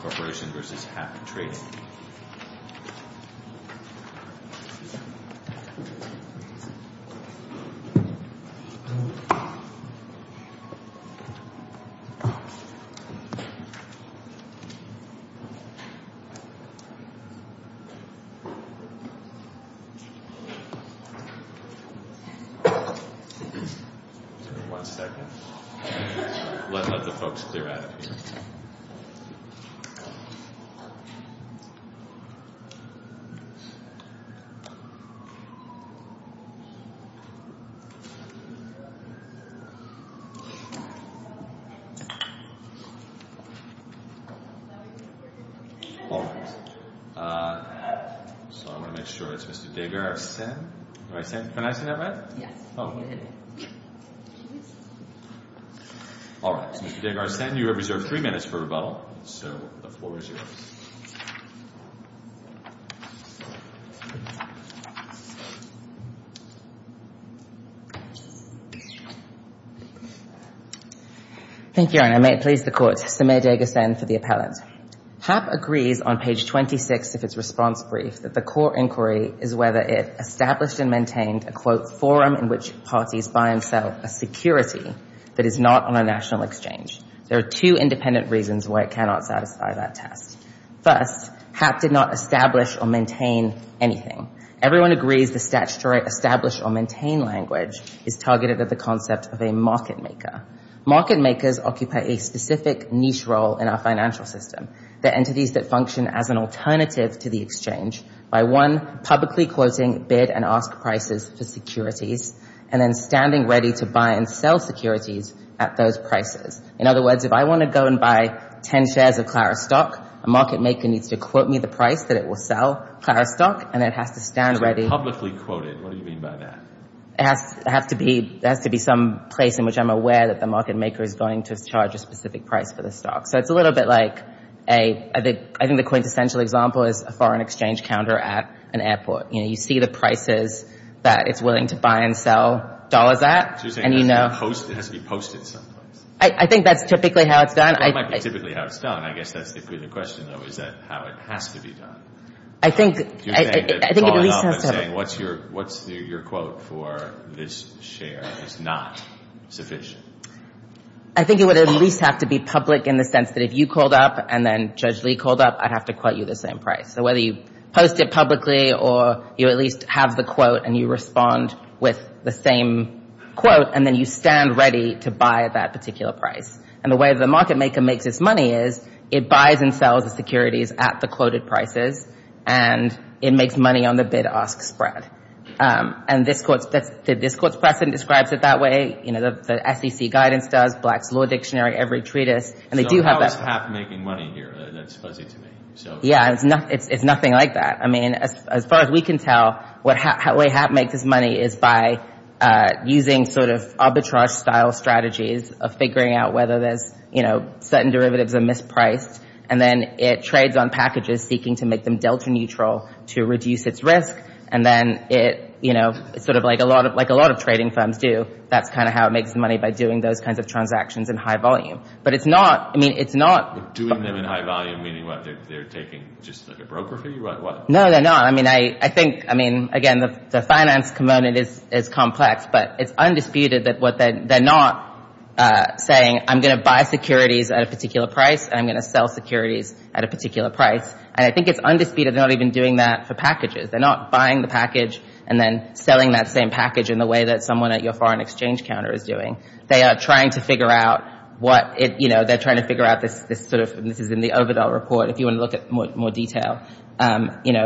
Corporation v. Hap Trading One second. Let the folks clear out. Alright, so I want to make sure it's Mr. DeGarcin. Am I saying that right? Yes, you did. Alright, so Mr. DeGarcin, you have reserved three minutes for rebuttal, so the floor is yours. Thank you, Your Honor. May it please the Court. Samir DeGarcin for the appellant. Hap agrees on page 26 of its response brief that the court inquiry is whether it established and maintained a, quote, forum in which parties buy and sell a security that is not on a national exchange. There are two independent reasons why it cannot satisfy that test. First, Hap did not establish or maintain anything. Everyone agrees the statutory establish or maintain language is targeted at the concept of a market maker. Market makers occupy a specific niche role in our financial system. They're entities that function as an alternative to the exchange by, one, publicly quoting bid and ask prices for securities, and then standing ready to buy and sell securities at those prices. In other words, if I want to go and buy 10 shares of Clarus stock, a market maker needs to quote me the price that it will sell Clarus stock, and it has to stand ready. Publicly quoted. What do you mean by that? It has to be some place in which I'm aware that the market maker is going to charge a specific price for the stock. So it's a little bit like a – I think the quintessential example is a foreign exchange counter at an airport. You know, you see the prices that it's willing to buy and sell dollars at, and you know – So you're saying it has to be posted someplace? I think that's typically how it's done. Well, it might be typically how it's done. I guess that's the question, though, is that how it has to be done. I think it at least has to have – What's your quote for this share is not sufficient? I think it would at least have to be public in the sense that if you called up and then Judge Lee called up, I'd have to quote you the same price. So whether you post it publicly or you at least have the quote and you respond with the same quote, and then you stand ready to buy at that particular price. And the way the market maker makes its money is it buys and sells the securities at the quoted prices, and it makes money on the bid-ask spread. And this court's precedent describes it that way. You know, the SEC guidance does, Black's Law Dictionary, every treatise. So how is HAP making money here? That's fuzzy to me. Yeah, it's nothing like that. I mean, as far as we can tell, the way HAP makes its money is by using sort of arbitrage-style strategies of figuring out whether certain derivatives are mispriced. And then it trades on packages seeking to make them delta neutral to reduce its risk. And then it's sort of like a lot of trading firms do. That's kind of how it makes money, by doing those kinds of transactions in high volume. But it's not – Doing them in high volume, meaning what? They're taking just like a broker for you? No, they're not. I mean, I think – I mean, again, the finance component is complex, but it's undisputed that they're not saying, I'm going to buy securities at a particular price, and I'm going to sell securities at a particular price. And I think it's undisputed they're not even doing that for packages. They're not buying the package and then selling that same package in the way that someone at your foreign exchange counter is doing. They are trying to figure out what – you know, they're trying to figure out this sort of – you know,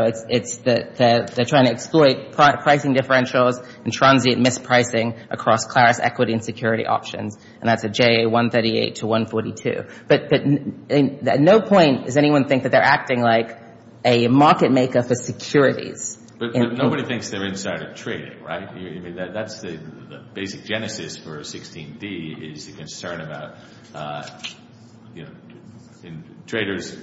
it's – they're trying to exploit pricing differentials and transient mispricing across Claris equity and security options. And that's a JA 138 to 142. But at no point does anyone think that they're acting like a market maker for securities. But nobody thinks they're inside of trading, right? I mean, that's the basic genesis for 16D is the concern about, you know, traders,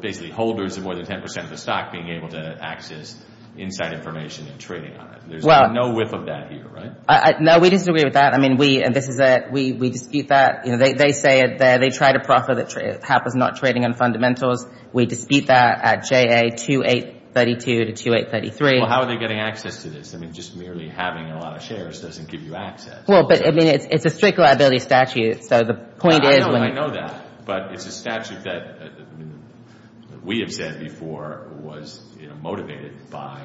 basically holders of more than 10 percent of the stock, being able to access inside information and trading on it. There's no whiff of that here, right? No, we disagree with that. I mean, we – and this is a – we dispute that. You know, they say it there. They try to proffer that HAP is not trading on fundamentals. We dispute that at JA 2832 to 2833. Well, how are they getting access to this? I mean, just merely having a lot of shares doesn't give you access. Well, but, I mean, it's a strict liability statute. So the point is – I know that. But it's a statute that we have said before was, you know, motivated by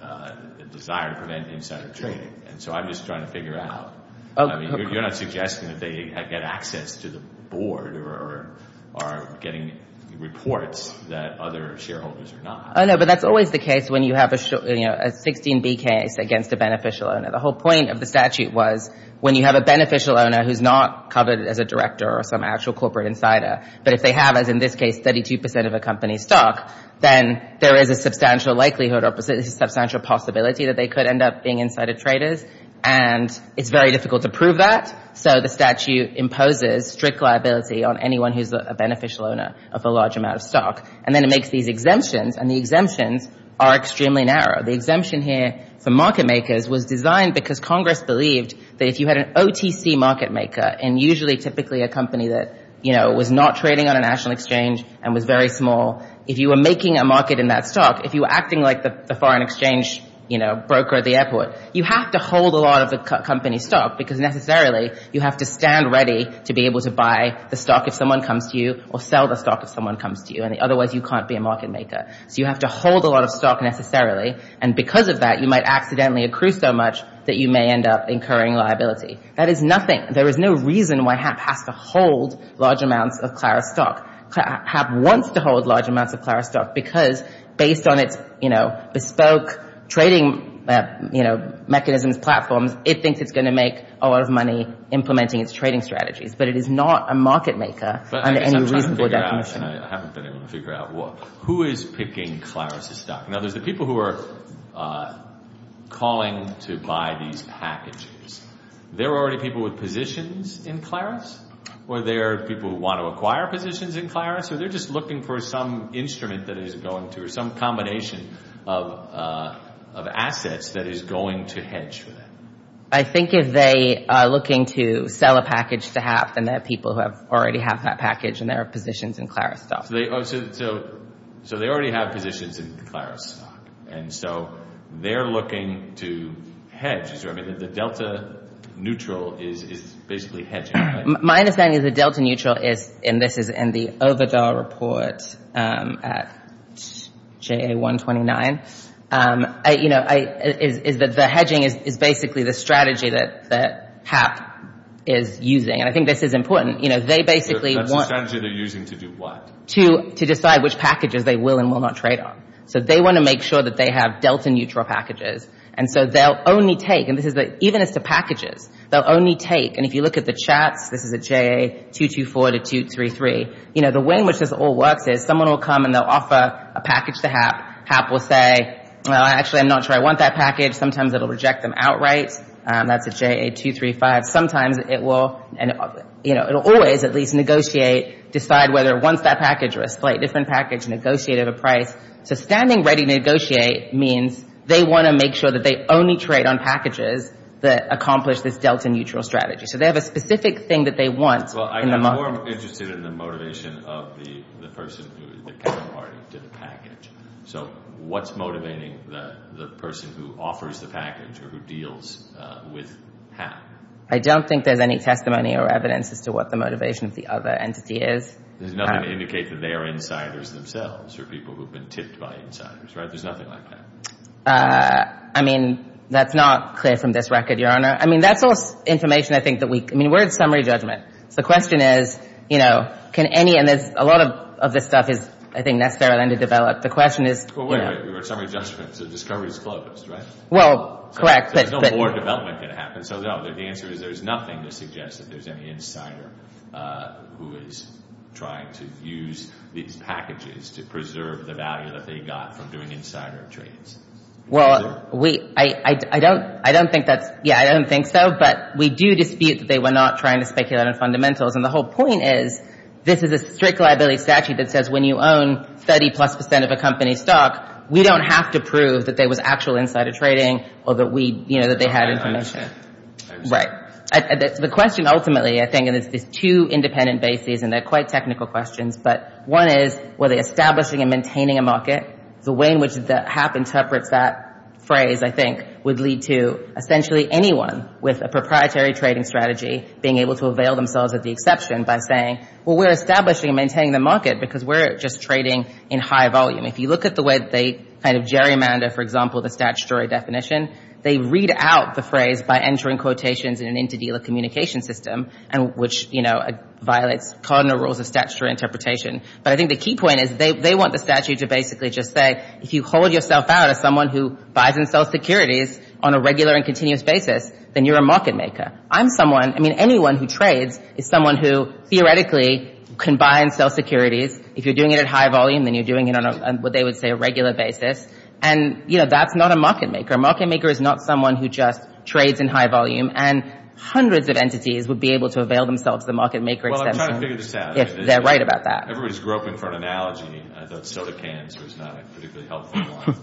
a desire to prevent insider trading. And so I'm just trying to figure it out. I mean, you're not suggesting that they get access to the board or are getting reports that other shareholders are not. Oh, no, but that's always the case when you have a 16B case against a beneficial owner. The whole point of the statute was when you have a beneficial owner who's not covered as a director or some actual corporate insider, but if they have, as in this case, 32 percent of a company's stock, then there is a substantial likelihood or a substantial possibility that they could end up being insider traders. And it's very difficult to prove that. So the statute imposes strict liability on anyone who's a beneficial owner of a large amount of stock. And then it makes these exemptions, and the exemptions are extremely narrow. The exemption here for market makers was designed because Congress believed that if you had an OTC market maker, and usually typically a company that, you know, was not trading on a national exchange and was very small, if you were making a market in that stock, if you were acting like the foreign exchange, you know, broker at the airport, you have to hold a lot of the company's stock because necessarily you have to stand ready to be able to buy the stock if someone comes to you or sell the stock if someone comes to you, and otherwise you can't be a market maker. So you have to hold a lot of stock necessarily, and because of that, you might accidentally accrue so much that you may end up incurring liability. That is nothing. There is no reason why HAP has to hold large amounts of Clara stock. HAP wants to hold large amounts of Clara stock because based on its, you know, bespoke trading, you know, mechanisms, platforms, it thinks it's going to make a lot of money implementing its trading strategies. But it is not a market maker under any reasonable definition. But I guess I'm trying to figure out, and I haven't been able to figure out who is picking Clara's stock. Now, there's the people who are calling to buy these packages. There are already people with positions in Clara's, or there are people who want to acquire positions in Clara's, or they're just looking for some instrument that is going to, or some combination of assets that is going to hedge for that. I think if they are looking to sell a package to HAP, then there are people who already have that package, and there are positions in Clara's stock. So they already have positions in Clara's stock, and so they're looking to hedge. I mean, the delta neutral is basically hedging. My understanding is the delta neutral is, and this is in the OVADAR report at JA129, you know, is that the hedging is basically the strategy that HAP is using. And I think this is important. You know, they basically want to decide which packages they will and will not trade on. So they want to make sure that they have delta neutral packages. And so they'll only take, and even as to packages, they'll only take, and if you look at the chats, this is at JA224 to 233, you know, the way in which this all works is someone will come and they'll offer a package to HAP. HAP will say, well, actually, I'm not sure I want that package. Sometimes it will reject them outright. That's at JA235. Sometimes it will, you know, it will always at least negotiate, decide whether it wants that package or a slightly different package, negotiate at a price. So standing ready to negotiate means they want to make sure that they only trade on packages that accomplish this delta neutral strategy. So they have a specific thing that they want in the market. Well, I'm more interested in the motivation of the person who is the counterparty to the package. So what's motivating the person who offers the package or who deals with HAP? I don't think there's any testimony or evidence as to what the motivation of the other entity is. There's nothing to indicate that they are insiders themselves or people who have been tipped by insiders, right? There's nothing like that. I mean, that's not clear from this record, Your Honor. I mean, that's all information I think that we can – I mean, we're at summary judgment. So the question is, you know, can any – and there's a lot of this stuff is, I think, necessary to develop. The question is – Well, we're at summary judgment, so discovery is closed, right? Well, correct. So there's no more development that can happen. So the answer is there's nothing to suggest that there's any insider who is trying to use these packages to preserve the value that they got from doing insider trades. Well, we – I don't think that's – yeah, I don't think so. But we do dispute that they were not trying to speculate on fundamentals. And the whole point is this is a strict liability statute that says when you own 30-plus percent of a company's stock, we don't have to prove that there was actual insider trading or that we – you know, that they had information. I understand. Right. The question ultimately, I think, and there's two independent bases, and they're quite technical questions, but one is were they establishing and maintaining a market? The way in which the HAP interprets that phrase, I think, would lead to essentially anyone with a proprietary trading strategy being able to avail themselves of the exception by saying, well, we're establishing and maintaining the market because we're just trading in high volume. If you look at the way they kind of gerrymander, for example, the statutory definition, they read out the phrase by entering quotations in an inter-dealer communication system, which, you know, violates cardinal rules of statutory interpretation. But I think the key point is they want the statute to basically just say, if you hold yourself out as someone who buys and sells securities on a regular and continuous basis, then you're a market maker. I'm someone – I mean, anyone who trades is someone who theoretically can buy and sell securities. If you're doing it at high volume, then you're doing it on what they would say a regular basis. And, you know, that's not a market maker. A market maker is not someone who just trades in high volume. And hundreds of entities would be able to avail themselves of the market maker exception. Well, I'm trying to figure this out. They're right about that. Everybody's groping for an analogy. I thought soda cans was not a particularly helpful one.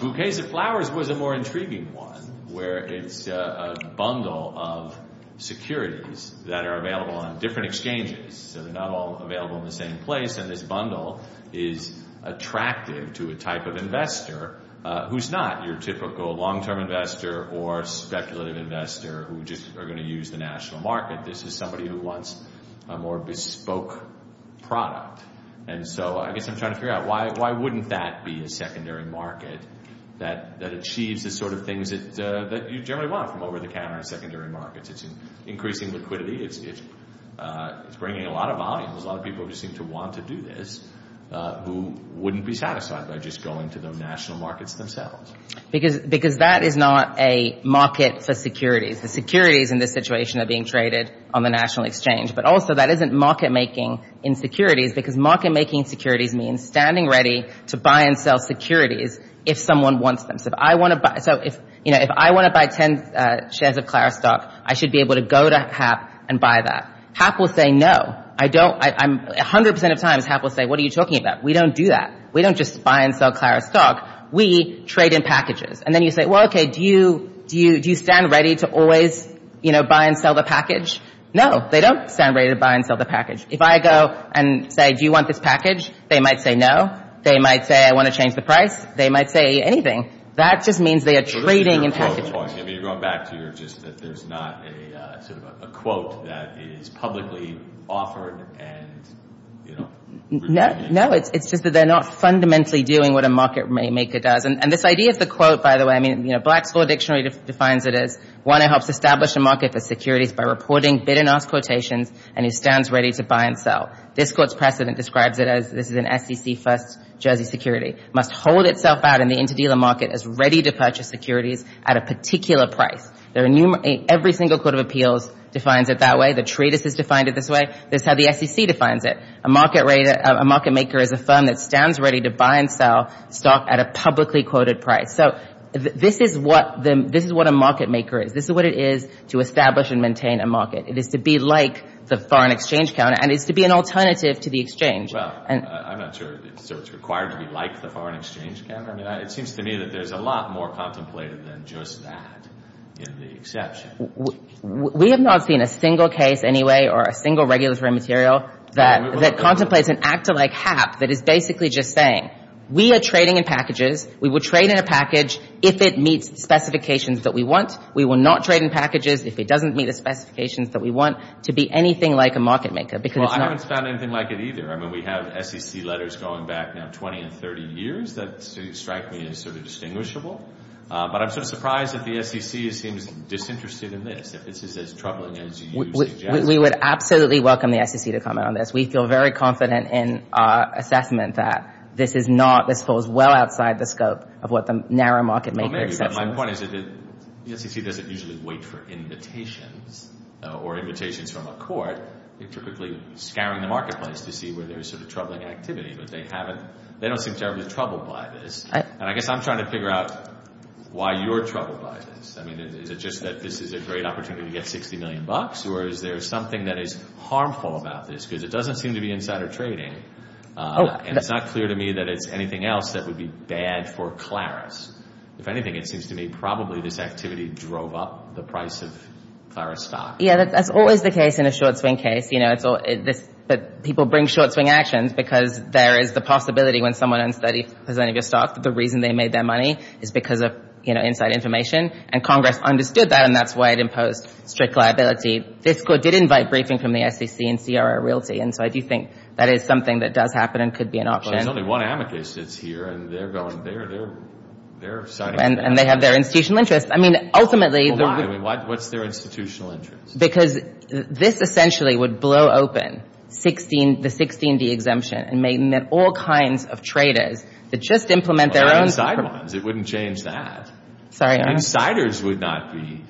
Bouquets of Flowers was a more intriguing one, where it's a bundle of securities that are available on different exchanges. So they're not all available in the same place. And this bundle is attractive to a type of investor who's not your typical long-term investor or speculative investor who just are going to use the national market. This is somebody who wants a more bespoke product. And so I guess I'm trying to figure out why wouldn't that be a secondary market that achieves the sort of things that you generally want from over-the-counter secondary markets. It's increasing liquidity. It's bringing a lot of volume. There's a lot of people who seem to want to do this who wouldn't be satisfied by just going to the national markets themselves. Because that is not a market for securities. The securities in this situation are being traded on the national exchange. But also that isn't market-making in securities, because market-making in securities means standing ready to buy and sell securities if someone wants them. So if I want to buy 10 shares of Clara stock, I should be able to go to Hap and buy that. Hap will say no. A hundred percent of times, Hap will say, what are you talking about? We don't do that. We don't just buy and sell Clara stock. We trade in packages. And then you say, well, okay, do you stand ready to always buy and sell the package? No. They don't stand ready to buy and sell the package. If I go and say, do you want this package? They might say no. They might say, I want to change the price. They might say anything. That just means they are trading in packages. You're going back to your just that there's not a quote that is publicly offered. No. It's just that they're not fundamentally doing what a market-maker does. And this idea of the quote, by the way, I mean, you know, Black's Law Dictionary defines it as, one, it helps establish a market for securities by reporting bid and ask quotations and who stands ready to buy and sell. This court's precedent describes it as, this is an SEC-first Jersey security, must hold itself out in the inter-dealer market as ready to purchase securities at a particular price. Every single court of appeals defines it that way. The treatise has defined it this way. This is how the SEC defines it. A market-maker is a firm that stands ready to buy and sell stock at a publicly quoted price. So this is what a market-maker is. This is what it is to establish and maintain a market. It is to be like the foreign exchange counter and it's to be an alternative to the exchange. Well, I'm not sure it's required to be like the foreign exchange counter. I mean, it seems to me that there's a lot more contemplated than just that in the exception. We have not seen a single case anyway or a single regulatory material that contemplates an act like HAP that is basically just saying we are trading in packages. We would trade in a package if it meets the specifications that we want. We will not trade in packages if it doesn't meet the specifications that we want to be anything like a market-maker because it's not. Well, I haven't found anything like it either. I mean, we have SEC letters going back now 20 and 30 years that strike me as sort of distinguishable. But I'm sort of surprised that the SEC seems disinterested in this. If this is as troubling as you suggest. We would absolutely welcome the SEC to comment on this. We feel very confident in our assessment that this is not, this falls well outside the scope of what the narrow market-makers. Well, maybe, but my point is that the SEC doesn't usually wait for invitations or invitations from a court. They're typically scouring the marketplace to see where there's sort of troubling activity. But they haven't, they don't seem terribly troubled by this. And I guess I'm trying to figure out why you're troubled by this. I mean, is it just that this is a great opportunity to get $60 million? Or is there something that is harmful about this because it doesn't seem to be insider trading. And it's not clear to me that it's anything else that would be bad for Claris. If anything, it seems to me probably this activity drove up the price of Claris stock. Yeah, that's always the case in a short swing case. You know, it's all, but people bring short swing actions because there is the possibility when someone learns that he has any of your stock that the reason they made their money is because of, you know, inside information. And Congress understood that, and that's why it imposed strict liability. This court did invite briefing from the SEC and CRO Realty. And so I do think that is something that does happen and could be an option. But there's only one amicus that's here, and they're going, they're signing that. And they have their institutional interest. I mean, ultimately. I mean, what's their institutional interest? Because this essentially would blow open the 16D exemption and make all kinds of traders that just implement their own. Well, they're inside ones. It wouldn't change that. Sorry, Your Honor. Insiders would not be.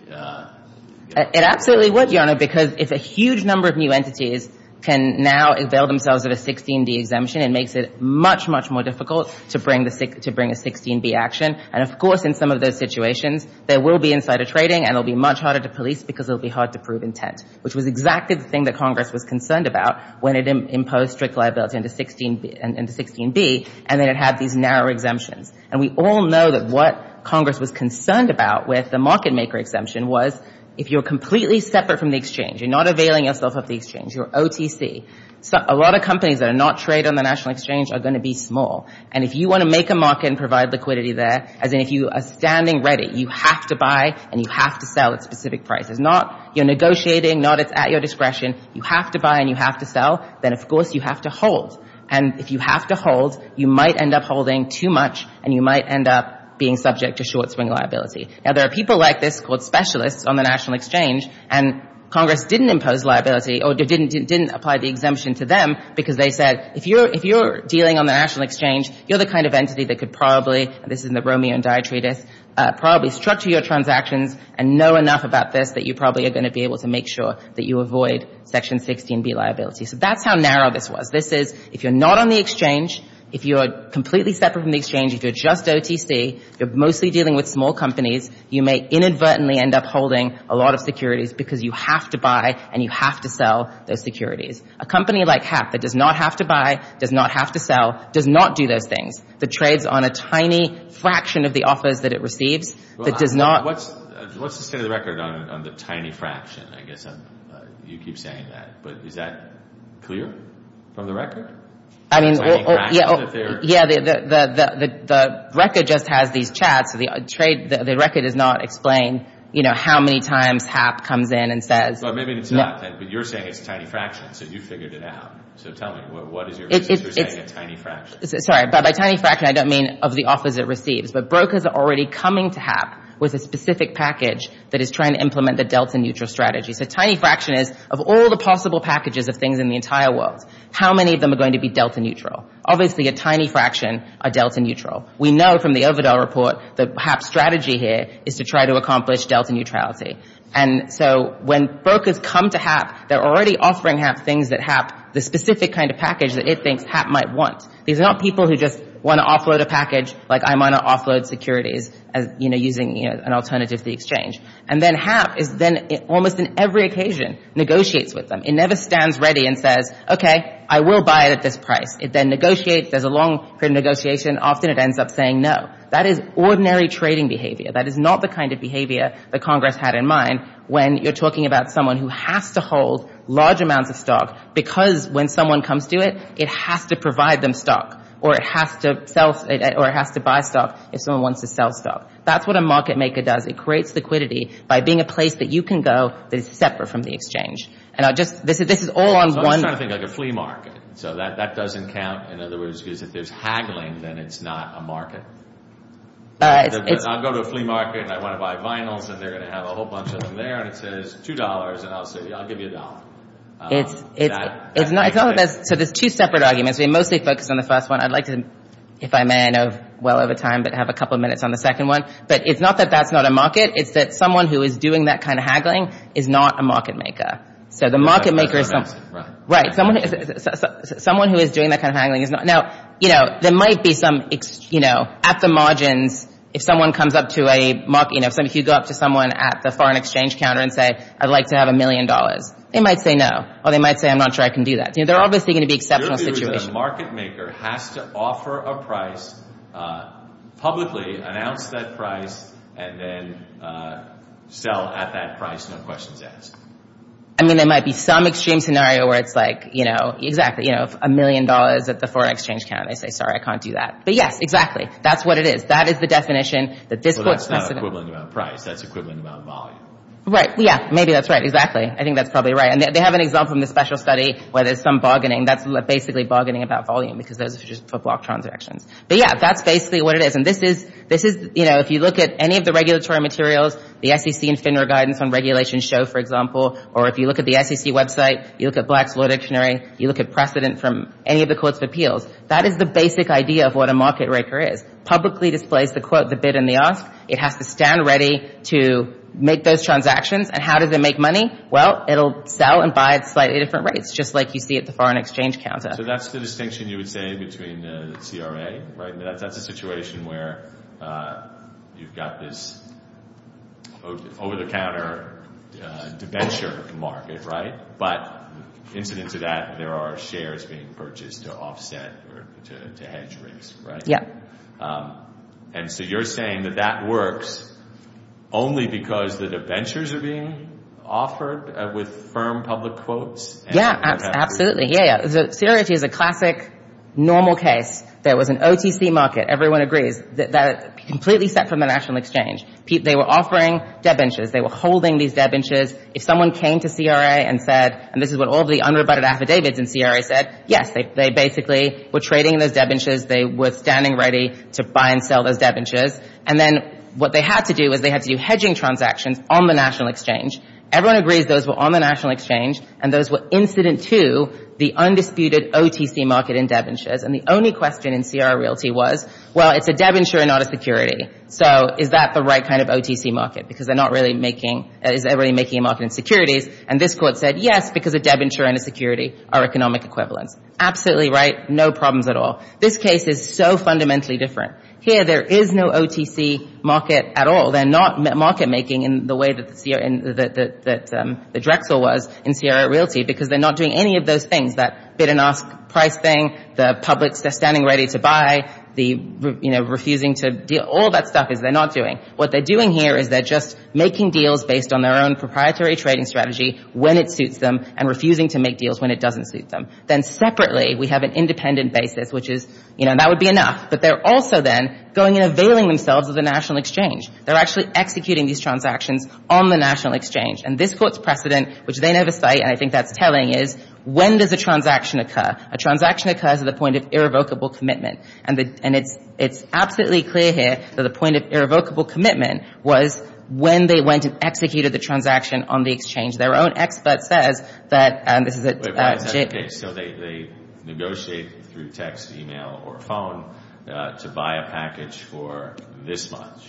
It absolutely would, Your Honor, because if a huge number of new entities can now avail themselves of a 16D exemption, it makes it much, much more difficult to bring a 16B action. And, of course, in some of those situations, there will be insider trading, and it will be much harder to police because it will be hard to prove intent, which was exactly the thing that Congress was concerned about when it imposed strict liability into 16B, and then it had these narrow exemptions. And we all know that what Congress was concerned about with the market maker exemption was if you're completely separate from the exchange, you're not availing yourself of the exchange, you're OTC, a lot of companies that are not traded on the national exchange are going to be small. And if you want to make a market and provide liquidity there, as in if you are standing ready, you have to buy and you have to sell at specific prices. Not you're negotiating, not it's at your discretion. You have to buy and you have to sell. Then, of course, you have to hold. And if you have to hold, you might end up holding too much, and you might end up being subject to short-swing liability. Now, there are people like this called specialists on the national exchange, and Congress didn't impose liability or didn't apply the exemption to them because they said, if you're dealing on the national exchange, you're the kind of entity that could probably, and this is in the Romeo and Die treatise, probably structure your transactions and know enough about this that you probably are going to be able to make sure that you avoid Section 16B liability. So that's how narrow this was. This is if you're not on the exchange, if you're completely separate from the exchange, if you're just OTC, you're mostly dealing with small companies, you may inadvertently end up holding a lot of securities because you have to buy and you have to sell those securities. A company like HAP that does not have to buy, does not have to sell, does not do those things, that trades on a tiny fraction of the offers that it receives, that does not. What's the state of the record on the tiny fraction? I guess you keep saying that, but is that clear from the record? I mean, yeah, the record just has these chats. The record does not explain how many times HAP comes in and says. Well, maybe it's not, but you're saying it's a tiny fraction, so you figured it out. So tell me, what is your reason for saying a tiny fraction? Sorry, by tiny fraction, I don't mean of the offers it receives, but brokers are already coming to HAP with a specific package that is trying to implement the delta neutral strategy. So tiny fraction is of all the possible packages of things in the entire world, how many of them are going to be delta neutral? Obviously, a tiny fraction are delta neutral. We know from the Ovidal report that HAP's strategy here is to try to accomplish delta neutrality. And so when brokers come to HAP, they're already offering HAP things that HAP, the specific kind of package that it thinks HAP might want. These are not people who just want to offload a package, like I want to offload securities, using an alternative to the exchange. And then HAP is then, almost on every occasion, negotiates with them. It never stands ready and says, okay, I will buy it at this price. It then negotiates. There's a long period of negotiation. Often it ends up saying no. That is ordinary trading behavior. That is not the kind of behavior that Congress had in mind when you're talking about someone who has to hold large amounts of stock because when someone comes to it, it has to provide them stock or it has to buy stock if someone wants to sell stock. That's what a market maker does. It creates liquidity by being a place that you can go that is separate from the exchange. And I'll just – this is all on one – So I'm just trying to think like a flea market. So that doesn't count. In other words, if there's haggling, then it's not a market. I'll go to a flea market and I want to buy vinyls and they're going to have a whole bunch of them there and it says $2 and I'll say, yeah, I'll give you a dollar. It's not – so there's two separate arguments. We mostly focus on the first one. I'd like to, if I may, I know well over time, but have a couple of minutes on the second one. But it's not that that's not a market. It's that someone who is doing that kind of haggling is not a market maker. So the market maker is – Right. Someone who is doing that kind of haggling is not – Now, there might be some – at the margins, if someone comes up to a – if you go up to someone at the foreign exchange counter and say, I'd like to have a million dollars, they might say no. Or they might say, I'm not sure I can do that. They're obviously going to be exceptional situations. Your view is that a market maker has to offer a price, publicly announce that price, and then sell at that price, no questions asked. I mean, there might be some extreme scenario where it's like, exactly, a million dollars at the foreign exchange counter. They say, sorry, I can't do that. But yes, exactly. That's what it is. That is the definition that this court – But that's not equivalent about price. That's equivalent about volume. Right. Yeah, maybe that's right. Exactly. I think that's probably right. And they have an example in the special study where there's some bargaining. That's basically bargaining about volume because those are just for block transactions. But yeah, that's basically what it is. And this is – if you look at any of the regulatory materials, the SEC and FINRA guidance on regulation show, for example, or if you look at the SEC website, you look at Black's Law Dictionary, you look at precedent from any of the courts of appeals, that is the basic idea of what a market raker is. Publicly displays the quote, the bid, and the ask. It has to stand ready to make those transactions. And how does it make money? Well, it'll sell and buy at slightly different rates, just like you see at the foreign exchange counter. So that's the distinction you would say between the CRA, right? That's a situation where you've got this over-the-counter debenture market, right? But incident to that, there are shares being purchased to offset or to hedge rates, right? And so you're saying that that works only because the debentures are being offered with firm public quotes? Yeah, absolutely. CRA is a classic, normal case. There was an OTC market, everyone agrees, completely set from the national exchange. They were offering debentures. They were holding these debentures. If someone came to CRA and said, and this is what all the unrebutted affidavits in CRA said, yes, they basically were trading those debentures. They were standing ready to buy and sell those debentures. And then what they had to do was they had to do hedging transactions on the national exchange. Everyone agrees those were on the national exchange, and those were incident to the undisputed OTC market in debentures. And the only question in CRA Realty was, well, it's a debenture and not a security. So is that the right kind of OTC market? Because they're not really making a market in securities. And this court said, yes, because a debenture and a security are economic equivalents. Absolutely right, no problems at all. This case is so fundamentally different. Here there is no OTC market at all. They're not market making in the way that the Drexel was in CRA Realty because they're not doing any of those things, that bid and ask price thing, the public standing ready to buy, the refusing to deal, all that stuff is they're not doing. What they're doing here is they're just making deals based on their own proprietary trading strategy when it suits them and refusing to make deals when it doesn't suit them. Then separately we have an independent basis, which is, you know, that would be enough. But they're also then going and availing themselves of the national exchange. They're actually executing these transactions on the national exchange. And this court's precedent, which they never cite, and I think that's telling, is when does a transaction occur? A transaction occurs at the point of irrevocable commitment. And it's absolutely clear here that the point of irrevocable commitment was when they went and executed the transaction on the exchange. Their own expert says that this is a... So they negotiate through text, email, or phone to buy a package for this much.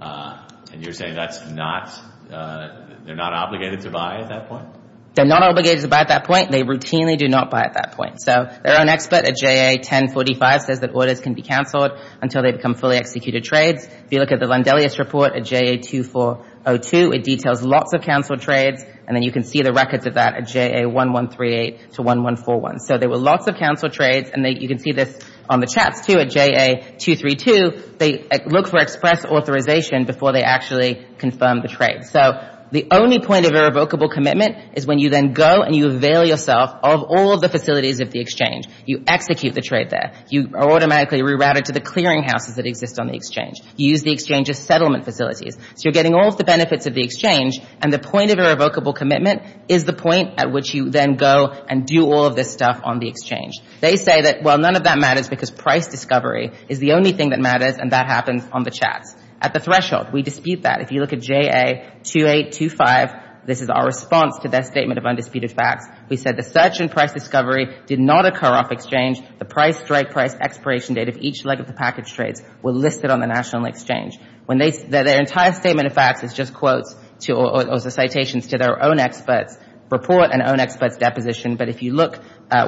And you're saying that's not... they're not obligated to buy at that point? They're not obligated to buy at that point. They routinely do not buy at that point. So their own expert at JA 1045 says that orders can be canceled until they become fully executed trades. If you look at the Landelius Report at JA 2402, it details lots of canceled trades. And then you can see the records of that at JA 1138 to 1141. So there were lots of canceled trades. And you can see this on the chats, too, at JA 232. They look for express authorization before they actually confirm the trade. So the only point of irrevocable commitment is when you then go and you avail yourself of all the facilities of the exchange. You execute the trade there. You are automatically rerouted to the clearinghouses that exist on the exchange. You use the exchange as settlement facilities. So you're getting all of the benefits of the exchange, and the point of irrevocable commitment is the point at which you then go and do all of this stuff on the exchange. They say that, well, none of that matters because price discovery is the only thing that matters, and that happens on the chats. At the threshold, we dispute that. If you look at JA 2825, this is our response to their statement of undisputed facts. We said the search and price discovery did not occur off exchange. The price strike, price expiration date of each leg of the package trades were listed on the National Exchange. Their entire statement of facts is just quotes or citations to their own experts' report and own experts' deposition, but if you look,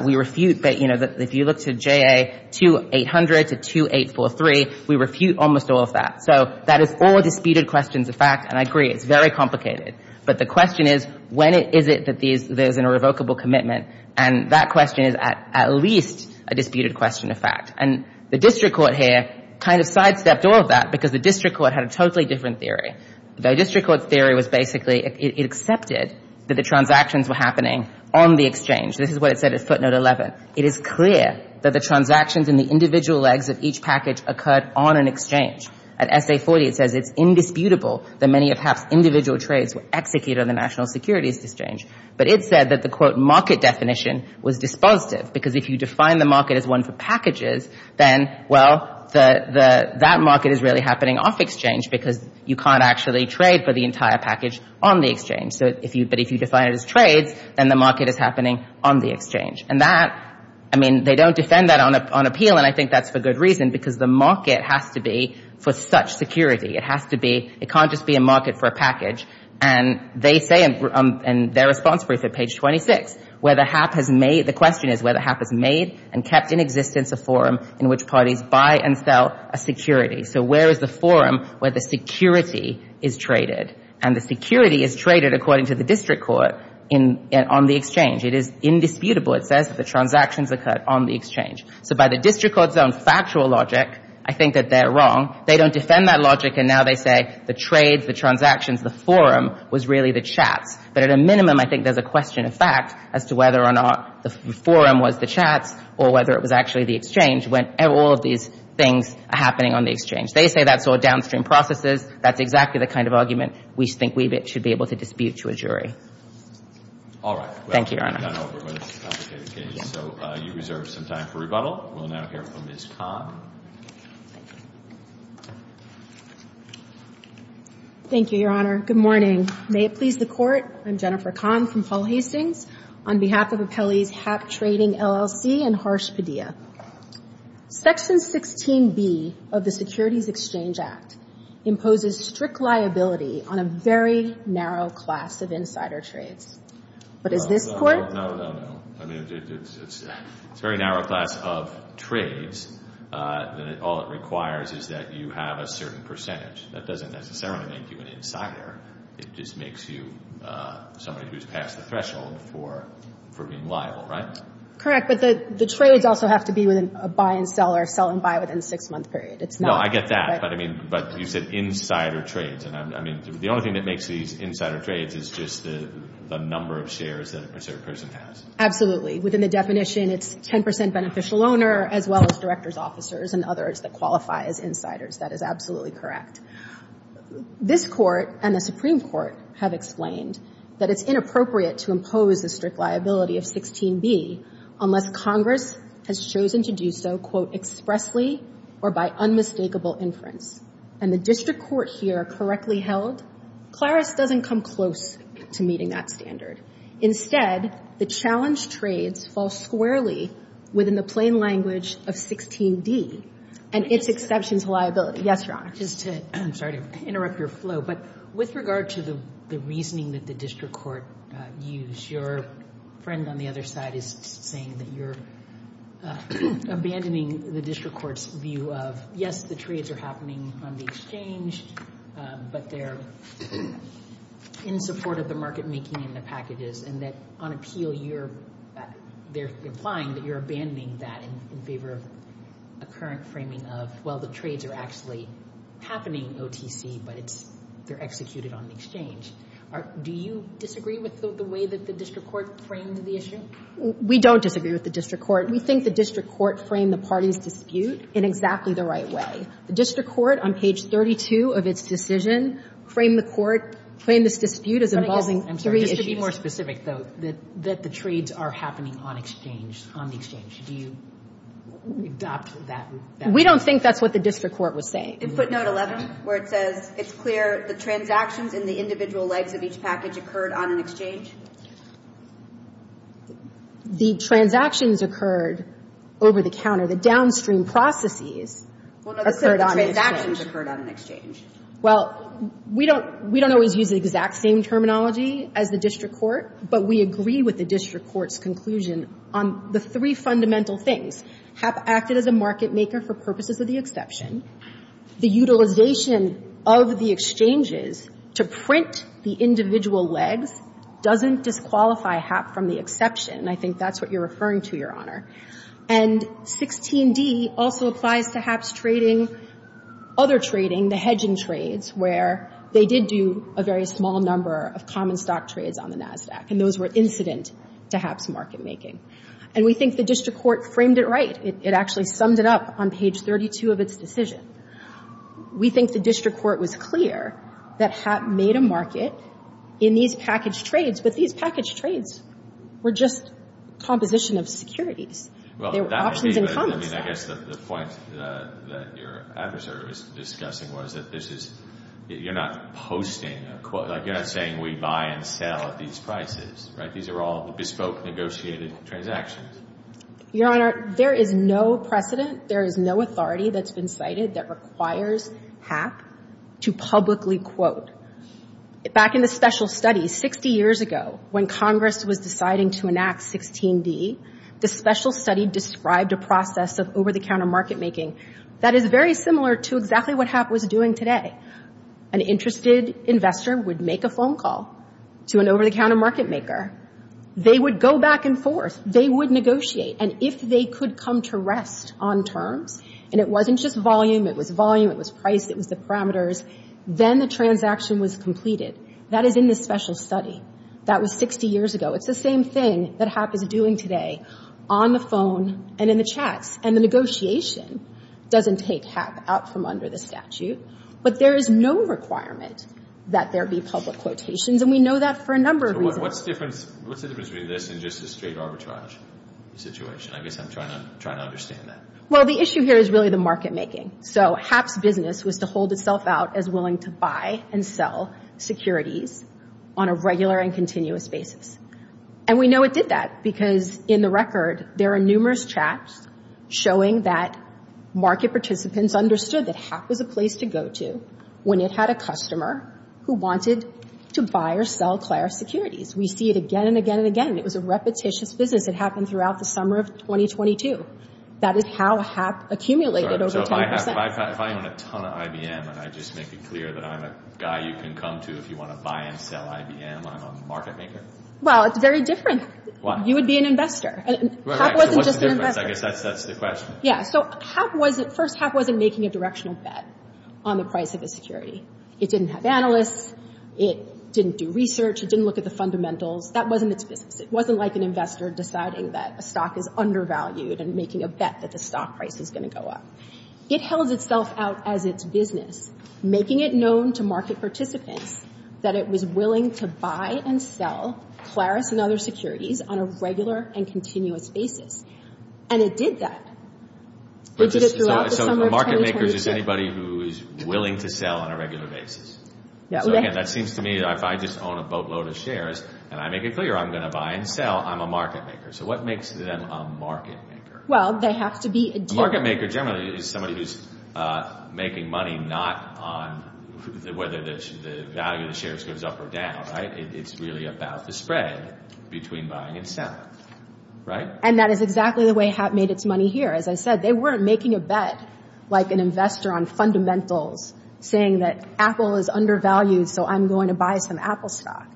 we refute that. If you look to JA 2800 to 2843, we refute almost all of that. So that is all disputed questions of fact, and I agree, it's very complicated. But the question is, when is it that there's an irrevocable commitment? And that question is at least a disputed question of fact. And the district court here kind of sidestepped all of that because the district court had a totally different theory. The district court's theory was basically it accepted that the transactions were happening on the exchange. This is what it said at footnote 11. It is clear that the transactions in the individual legs of each package occurred on an exchange. At SA 40, it says it's indisputable that many of HAP's individual trades were executed on the National Securities Exchange. But it said that the, quote, market definition was dispositive because if you define the market as one for packages, then, well, that market is really happening off exchange because you can't actually trade for the entire package on the exchange. But if you define it as trades, then the market is happening on the exchange. And that, I mean, they don't defend that on appeal, and I think that's for good reason because the market has to be for such security. It has to be, it can't just be a market for a package. And they say in their response brief at page 26, where the HAP has made, the question is where the HAP has made and kept in existence a forum in which parties buy and sell a security. So where is the forum where the security is traded? And the security is traded, according to the district court, on the exchange. It is indisputable, it says, that the transactions occurred on the exchange. So by the district court's own factual logic, I think that they're wrong. They don't defend that logic, and now they say the trades, the transactions, the forum was really the chats. But at a minimum, I think there's a question of fact as to whether or not the forum was the chats or whether it was actually the exchange when all of these things are happening on the exchange. They say that's all downstream processes. That's exactly the kind of argument we think we should be able to dispute to a jury. All right. Thank you, Your Honor. So you reserve some time for rebuttal. We'll now hear from Ms. Kahn. Thank you. Thank you, Your Honor. Good morning. May it please the Court, I'm Jennifer Kahn from Paul Hastings. On behalf of Appellee's Hap Trading, LLC, and Harsh Padilla, Section 16B of the Securities Exchange Act imposes strict liability on a very narrow class of insider trades. But as this Court... No, no, no, no, no. I mean, it's a very narrow class of trades. All it requires is that you have a certain percentage. That doesn't necessarily make you an insider. It just makes you somebody who's past the threshold for being liable, right? Correct. But the trades also have to be with a buy and sell or sell and buy within a six-month period. No, I get that. But you said insider trades. The only thing that makes these insider trades is just the number of shares that a particular person has. Absolutely. Within the definition, it's 10% beneficial owner as well as directors, officers, and others that qualify as insiders. That is absolutely correct. This Court and the Supreme Court have explained that it's inappropriate to impose a strict liability of 16B unless Congress has chosen to do so, quote, expressly or by unmistakable inference. And the district court here correctly held CLARIS doesn't come close to meeting that standard. Instead, the challenge trades fall squarely within the plain language of 16D and its exceptions liability. Yes, Your Honor. Just to, I'm sorry to interrupt your flow, but with regard to the reasoning that the district court used, your friend on the other side is saying that you're abandoning the district court's view of, yes, the trades are happening on the exchange, but they're in support of the market making and the packages and that on appeal, they're implying that you're abandoning that in favor of a current framing of, well, the trades are actually happening OTC, but they're executed on the exchange. Do you disagree with the way that the district court framed the issue? We don't disagree with the district court. We think the district court framed the parties' dispute in exactly the right way. The district court on page 32 of its decision framed this dispute as involving three issues. Just to be more specific, though, that the trades are happening on exchange, on the exchange. Do you adopt that? We don't think that's what the district court was saying. In footnote 11, where it says, it's clear the transactions in the individual legs of each package occurred on an exchange? The transactions occurred over the counter. The downstream processes occurred on an exchange. Well, no, the transactions occurred on an exchange. Well, we don't always use the exact same terminology as the district court, but we agree with the district court's conclusion on the three fundamental things. HAP acted as a market maker for purposes of the exception. The utilization of the exchanges to print the individual legs doesn't disqualify HAP from the exception. I think that's what you're referring to, Your Honor. And 16d also applies to HAP's trading, other trading, the hedging trades, where they did do a very small number of common stock trades on the NASDAQ, and those were incident to HAP's market making. And we think the district court framed it right. It actually summed it up on page 32 of its decision. We think the district court was clear that HAP made a market in these packaged trades, but these packaged trades were just composition of securities. They were options and common stocks. I guess the point that your adversary was discussing was that you're not posting a quote, like you're not saying we buy and sell at these prices. These are all bespoke negotiated transactions. Your Honor, there is no precedent, there is no authority that's been cited that requires HAP to publicly quote. Back in the special study, 60 years ago, when Congress was deciding to enact 16d, the special study described a process of over-the-counter market making that is very similar to exactly what HAP was doing today. An interested investor would make a phone call to an over-the-counter market maker. They would go back and forth, they would negotiate, and if they could come to rest on terms, and it wasn't just volume, it was volume, it was price, it was the parameters, then the transaction was completed. That is in the special study. That was 60 years ago. It's the same thing that HAP is doing today, on the phone and in the chats. And the negotiation doesn't take HAP out from under the statute, but there is no requirement that there be public quotations, and we know that for a number of reasons. So what's the difference between this and just a straight arbitrage situation? I guess I'm trying to understand that. Well, the issue here is really the market making. So HAP's business was to hold itself out as willing to buy and sell securities on a regular and continuous basis. And we know it did that because in the record there are numerous chats showing that market participants understood that HAP was a place to go to when it had a customer who wanted to buy or sell Clara securities. We see it again and again and again. It was a repetitious business. It happened throughout the summer of 2022. That is how HAP accumulated over 10%. So if I own a ton of IBM and I just make it clear that I'm a guy you can come to if you want to buy and sell IBM, I'm a market maker? Well, it's very different. You would be an investor. Right. So what's the difference? I guess that's the question. Yeah. So first, HAP wasn't making a directional bet on the price of a security. It didn't have analysts. It didn't do research. It didn't look at the fundamentals. That wasn't its business. It wasn't like an investor deciding that a stock is undervalued and making a bet that the stock price is going to go up. It held itself out as its business, making it known to market participants that it was willing to buy and sell Claris and other securities on a regular and continuous basis. And it did that. It did it throughout the summer of 2022. So the market maker is just anybody who is willing to sell on a regular basis. So again, that seems to me that if I just own a boatload of shares and I make it clear I'm going to buy and sell, I'm a market maker. So what makes them a market maker? Well, they have to be a dealer. A market maker generally is somebody who's making money not on whether the value of the shares goes up or down. It's really about the spread between buying and selling. And that is exactly the way Hap made its money here. As I said, they weren't making a bet like an investor on fundamentals, saying that Apple is undervalued so I'm going to buy some Apple stock.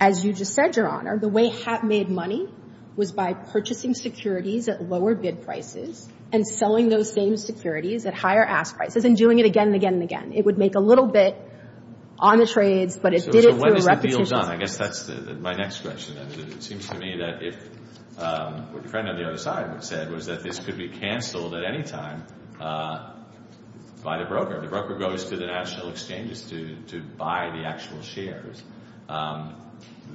As you just said, Your Honor, the way Hap made money was by purchasing securities at lower bid prices and selling those same securities at higher ask prices and doing it again and again and again. It would make a little bit on the trades, but it did it through repetitions. So when is the deal done? I guess that's my next question. It seems to me that if what your friend on the other side said was that this could be canceled at any time by the broker. The broker goes to the national exchanges to buy the actual shares.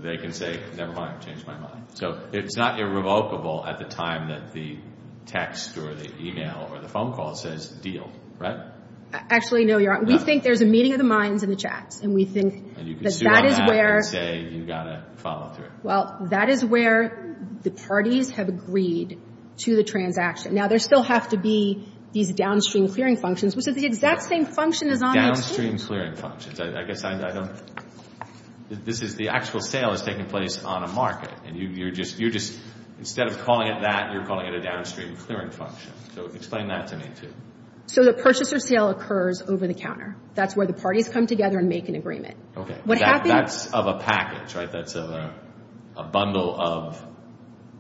They can say, never mind, I've changed my mind. So it's not irrevocable at the time that the text or the email or the phone call says deal, right? Actually, no, Your Honor, we think there's a meeting of the minds in the chats and we think that that is where. And you can sit on that and say you've got to follow through. Well, that is where the parties have agreed to the transaction. Now, there still have to be these downstream clearing functions, which is the exact same function as on the exchange. Downstream clearing functions. I guess I don't – this is – the actual sale is taking place on a market and you're just – instead of calling it that, you're calling it a downstream clearing function. So explain that to me, too. So the purchaser sale occurs over the counter. That's where the parties come together and make an agreement. That's of a package, right? That's a bundle of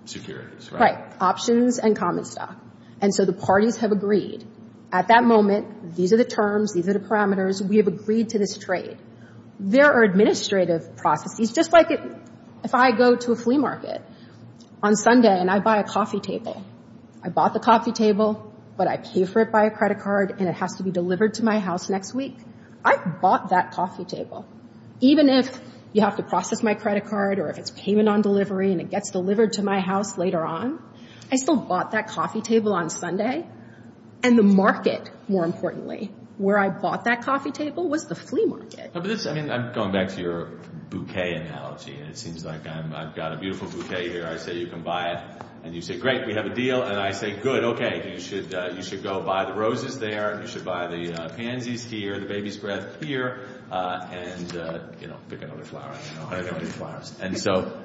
securities, right? Right, options and common stock. And so the parties have agreed. At that moment, these are the terms, these are the parameters. We have agreed to this trade. There are administrative processes, just like if I go to a flea market on Sunday and I buy a coffee table. I bought the coffee table, but I pay for it by a credit card and it has to be delivered to my house next week. I bought that coffee table. Even if you have to process my credit card or if it's payment on delivery and it gets delivered to my house later on, I still bought that coffee table on Sunday. And the market, more importantly, where I bought that coffee table, was the flea market. I mean, I'm going back to your bouquet analogy, and it seems like I've got a beautiful bouquet here. I say, you can buy it. And you say, great, we have a deal. And I say, good, okay, you should go buy the roses there and you should buy the pansies here, the baby's breath here, and pick another flower. And so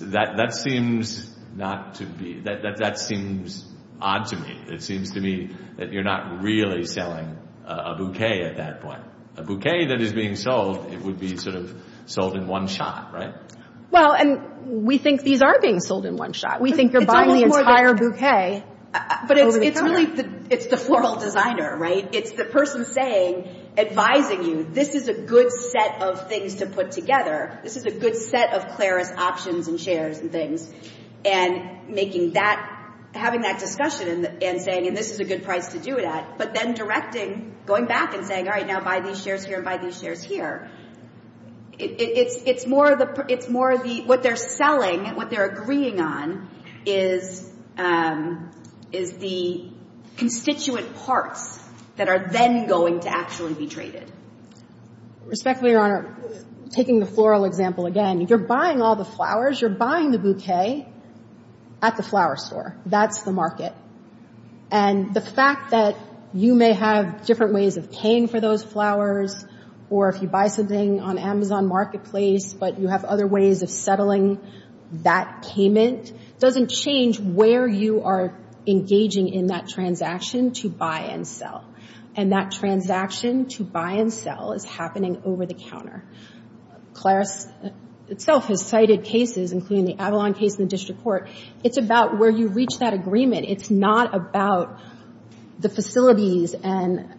that seems odd to me. It seems to me that you're not really selling a bouquet at that point. A bouquet that is being sold, it would be sort of sold in one shot, right? Well, and we think these are being sold in one shot. We think you're buying the entire bouquet over the counter. But it's really the floral designer, right? It's the person advising you, this is a good set of things to put together. This is a good set of Claris options and shares and things. And having that discussion and saying, and this is a good price to do it at, but then directing, going back and saying, all right, now buy these shares here and buy these shares here. It's more of the, what they're selling and what they're agreeing on is the constituent parts that are then going to actually be traded. Respectfully, Your Honor, taking the floral example again, you're buying all the flowers, you're buying the bouquet at the flower store. That's the market. And the fact that you may have different ways of paying for those flowers or if you buy something on Amazon Marketplace but you have other ways of settling that payment doesn't change where you are engaging in that transaction to buy and sell. And that transaction to buy and sell is happening over the counter. Claris itself has cited cases, including the Avalon case in the district court. It's about where you reach that agreement. It's not about the facilities and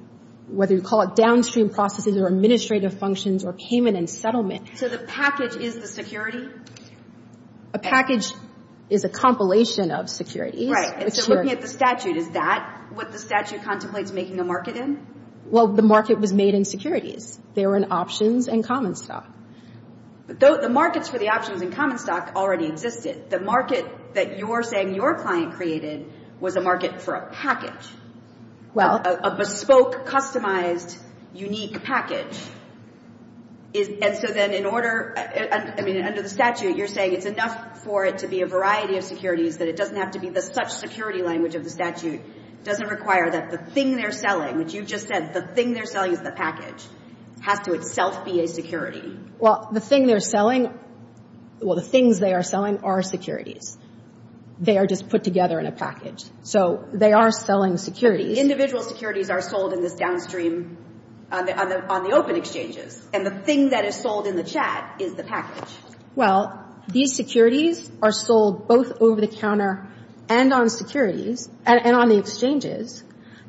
whether you call it downstream processes or administrative functions or payment and settlement. So the package is the security? A package is a compilation of securities. Right. And so looking at the statute, is that what the statute contemplates making a market in? Well, the market was made in securities. They were in options and common stock. But the markets for the options and common stock already existed. The market that you're saying your client created was a market for a package. Well. A bespoke, customized, unique package. And so then in order, I mean, under the statute, you're saying it's enough for it to be a variety of securities that it doesn't have to be the such security language of the statute. It doesn't require that the thing they're selling, which you just said the thing they're selling is the package, has to itself be a security. Well, the thing they're selling, well, the things they are selling are securities. They are just put together in a package. So they are selling securities. Individual securities are sold in this downstream, on the open exchanges. And the thing that is sold in the chat is the package. Well, these securities are sold both over the counter and on securities, and on the exchanges.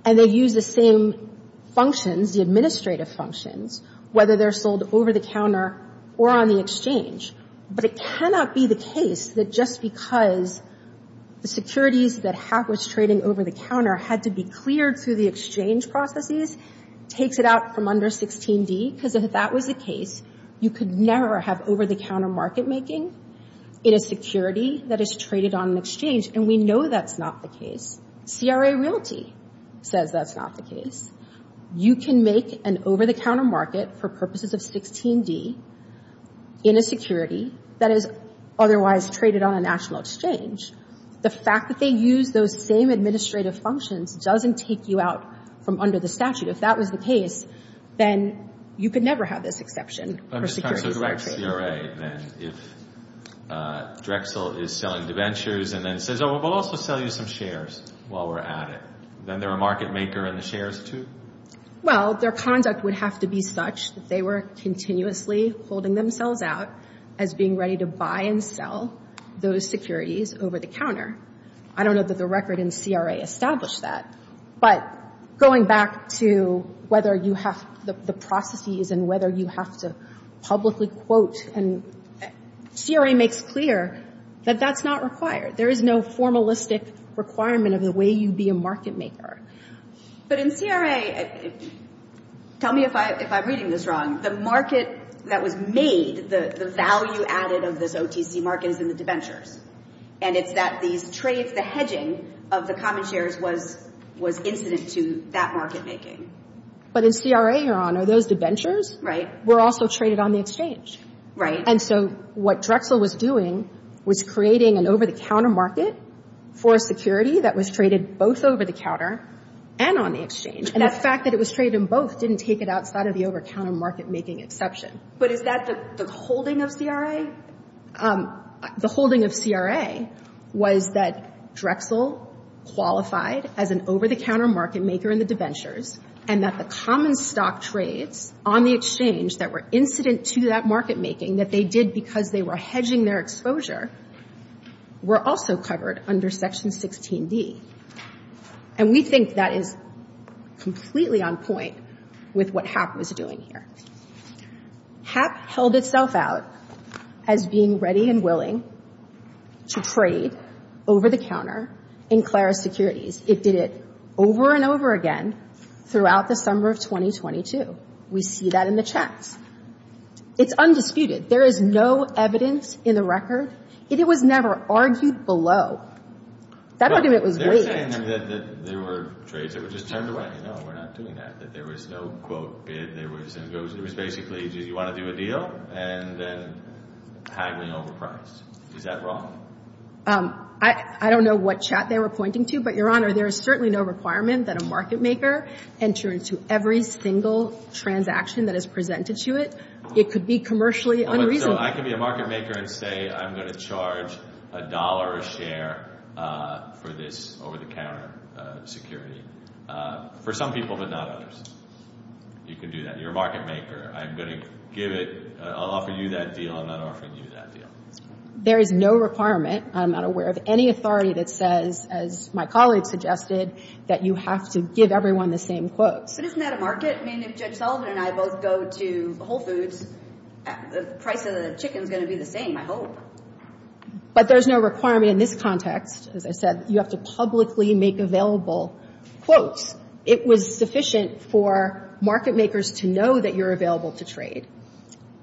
And they use the same functions, the administrative functions, whether they're sold over the counter or on the exchange. But it cannot be the case that just because the securities that was trading over the counter had to be cleared through the exchange processes, takes it out from under 16D, because if that was the case, you could never have over-the-counter market making in a security that is traded on an exchange. And we know that's not the case. CRA Realty says that's not the case. You can make an over-the-counter market for purposes of 16D in a security that is otherwise traded on a national exchange. The fact that they use those same administrative functions doesn't take you out from under the statute. If that was the case, then you could never have this exception for securities. I'm just trying to correct CRA then. If Drexel is selling debentures and then says, oh, we'll also sell you some shares while we're at it, then they're a market maker and the shares, too? Well, their conduct would have to be such that they were continuously holding themselves out as being ready to buy and sell those securities over the counter. I don't know that the record in CRA established that. But going back to whether you have the processes and whether you have to publicly quote, and CRA makes clear that that's not required. There is no formalistic requirement of the way you be a market maker. But in CRA, tell me if I'm reading this wrong, the market that was made, the value added of this OTC market, is in the debentures. And it's that these trades, the hedging of the common shares, was incident to that market making. But in CRA, Your Honor, those debentures were also traded on the exchange. Right. And so what Drexel was doing was creating an over-the-counter market for a security that was traded both over the counter and on the exchange. And the fact that it was traded in both didn't take it outside of the over-counter market making exception. But is that the holding of CRA? The holding of CRA was that Drexel qualified as an over-the-counter market maker in the debentures and that the common stock trades on the exchange that were incident to that market making, that they did because they were hedging their exposure, were also covered under Section 16D. And we think that is completely on point with what HAP was doing here. HAP held itself out as being ready and willing to trade over-the-counter in Clara Securities. It did it over and over again throughout the summer of 2022. We see that in the chats. It's undisputed. There is no evidence in the record. It was never argued below. That argument was waived. But they're saying that there were trades that were just turned away. No, we're not doing that, that there was no quote bid. There was basically you want to do a deal and then haggling over price. Is that wrong? I don't know what chat they were pointing to. But, Your Honor, there is certainly no requirement that a market maker enter into every single transaction that is presented to it. It could be commercially unreasonable. So I can be a market maker and say I'm going to charge a dollar a share for this over-the-counter security for some people but not others. You can do that. You're a market maker. I'm going to give it. I'll offer you that deal. I'm not offering you that deal. There is no requirement. I'm not aware of any authority that says, as my colleague suggested, that you have to give everyone the same quotes. But isn't that a market? I mean, if Judge Sullivan and I both go to Whole Foods, the price of the chicken is going to be the same, I hope. But there's no requirement in this context. As I said, you have to publicly make available quotes. It was sufficient for market makers to know that you're available to trade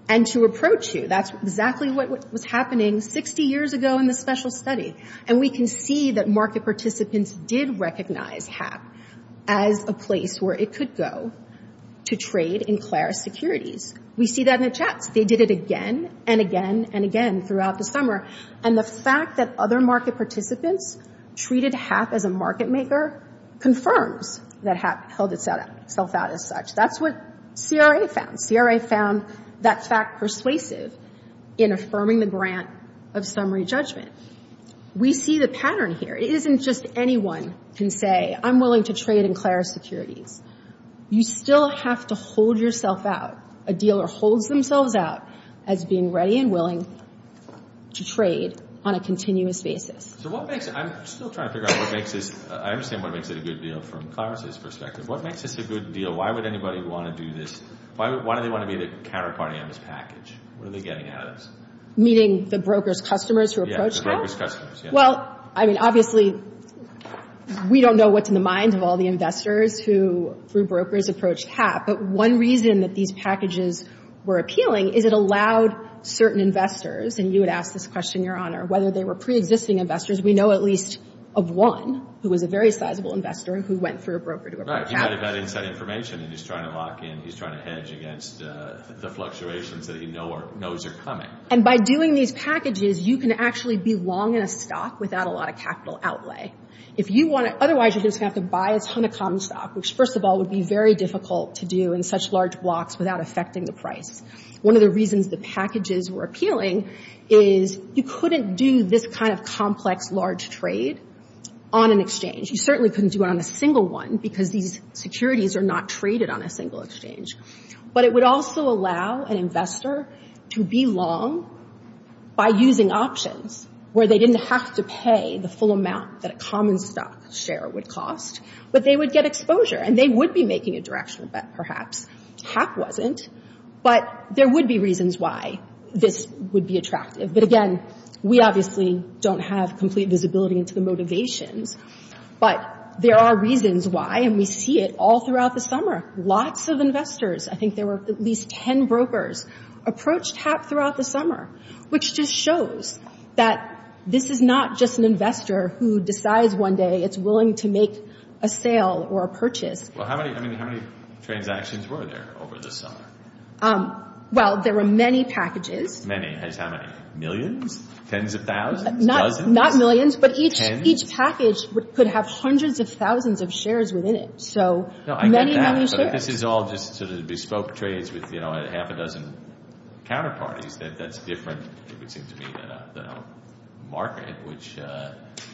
and to approach you. That's exactly what was happening 60 years ago in the special study. And we can see that market participants did recognize HAP as a place where it could go to trade in Clara's securities. We see that in the chats. They did it again and again and again throughout the summer. And the fact that other market participants treated HAP as a market maker confirms that HAP held itself out as such. That's what CRA found. CRA found that fact persuasive in affirming the grant of summary judgment. We see the pattern here. It isn't just anyone can say, I'm willing to trade in Clara's securities. You still have to hold yourself out, a dealer holds themselves out, as being ready and willing to trade on a continuous basis. I'm still trying to figure out what makes this, I understand what makes it a good deal from Clara's perspective. What makes this a good deal? Why would anybody want to do this? Why do they want to be the counterparty on this package? What are they getting out of this? Meeting the broker's customers who approach HAP? Yeah, the broker's customers. Well, I mean, obviously, we don't know what's in the minds of all the investors who, through brokers, approach HAP. But one reason that these packages were appealing is it allowed certain investors, and you had asked this question, Your Honor, whether they were preexisting investors. We know at least of one who was a very sizable investor who went through a broker to approach HAP. Right. He might have had inside information, and he's trying to lock in, he's trying to hedge against the fluctuations that he knows are coming. And by doing these packages, you can actually be long in a stock without a lot of capital outlay. Otherwise, you're just going to have to buy a ton of common stock, which, first of all, would be very difficult to do in such large blocks without affecting the price. One of the reasons the packages were appealing is you couldn't do this kind of complex, large trade on an exchange. You certainly couldn't do it on a single one because these securities are not traded on a single exchange. But it would also allow an investor to be long by using options where they didn't have to pay the full amount that a common stock share would cost, but they would get exposure, and they would be making a directional bet, perhaps. HAP wasn't. But there would be reasons why this would be attractive. But, again, we obviously don't have complete visibility into the motivations. But there are reasons why, and we see it all throughout the summer. Lots of investors, I think there were at least 10 brokers, approached HAP throughout the summer, which just shows that this is not just an investor who decides one day it's willing to make a sale or a purchase. Well, how many transactions were there over the summer? Well, there were many packages. Many. How many? Millions? Tens of thousands? Dozens? Not millions, but each package could have hundreds of thousands of shares within it. So many, many shares. No, I get that. But this is all just sort of bespoke trades with, you know, half a dozen counterparties. That's different, it would seem to me, than a market, which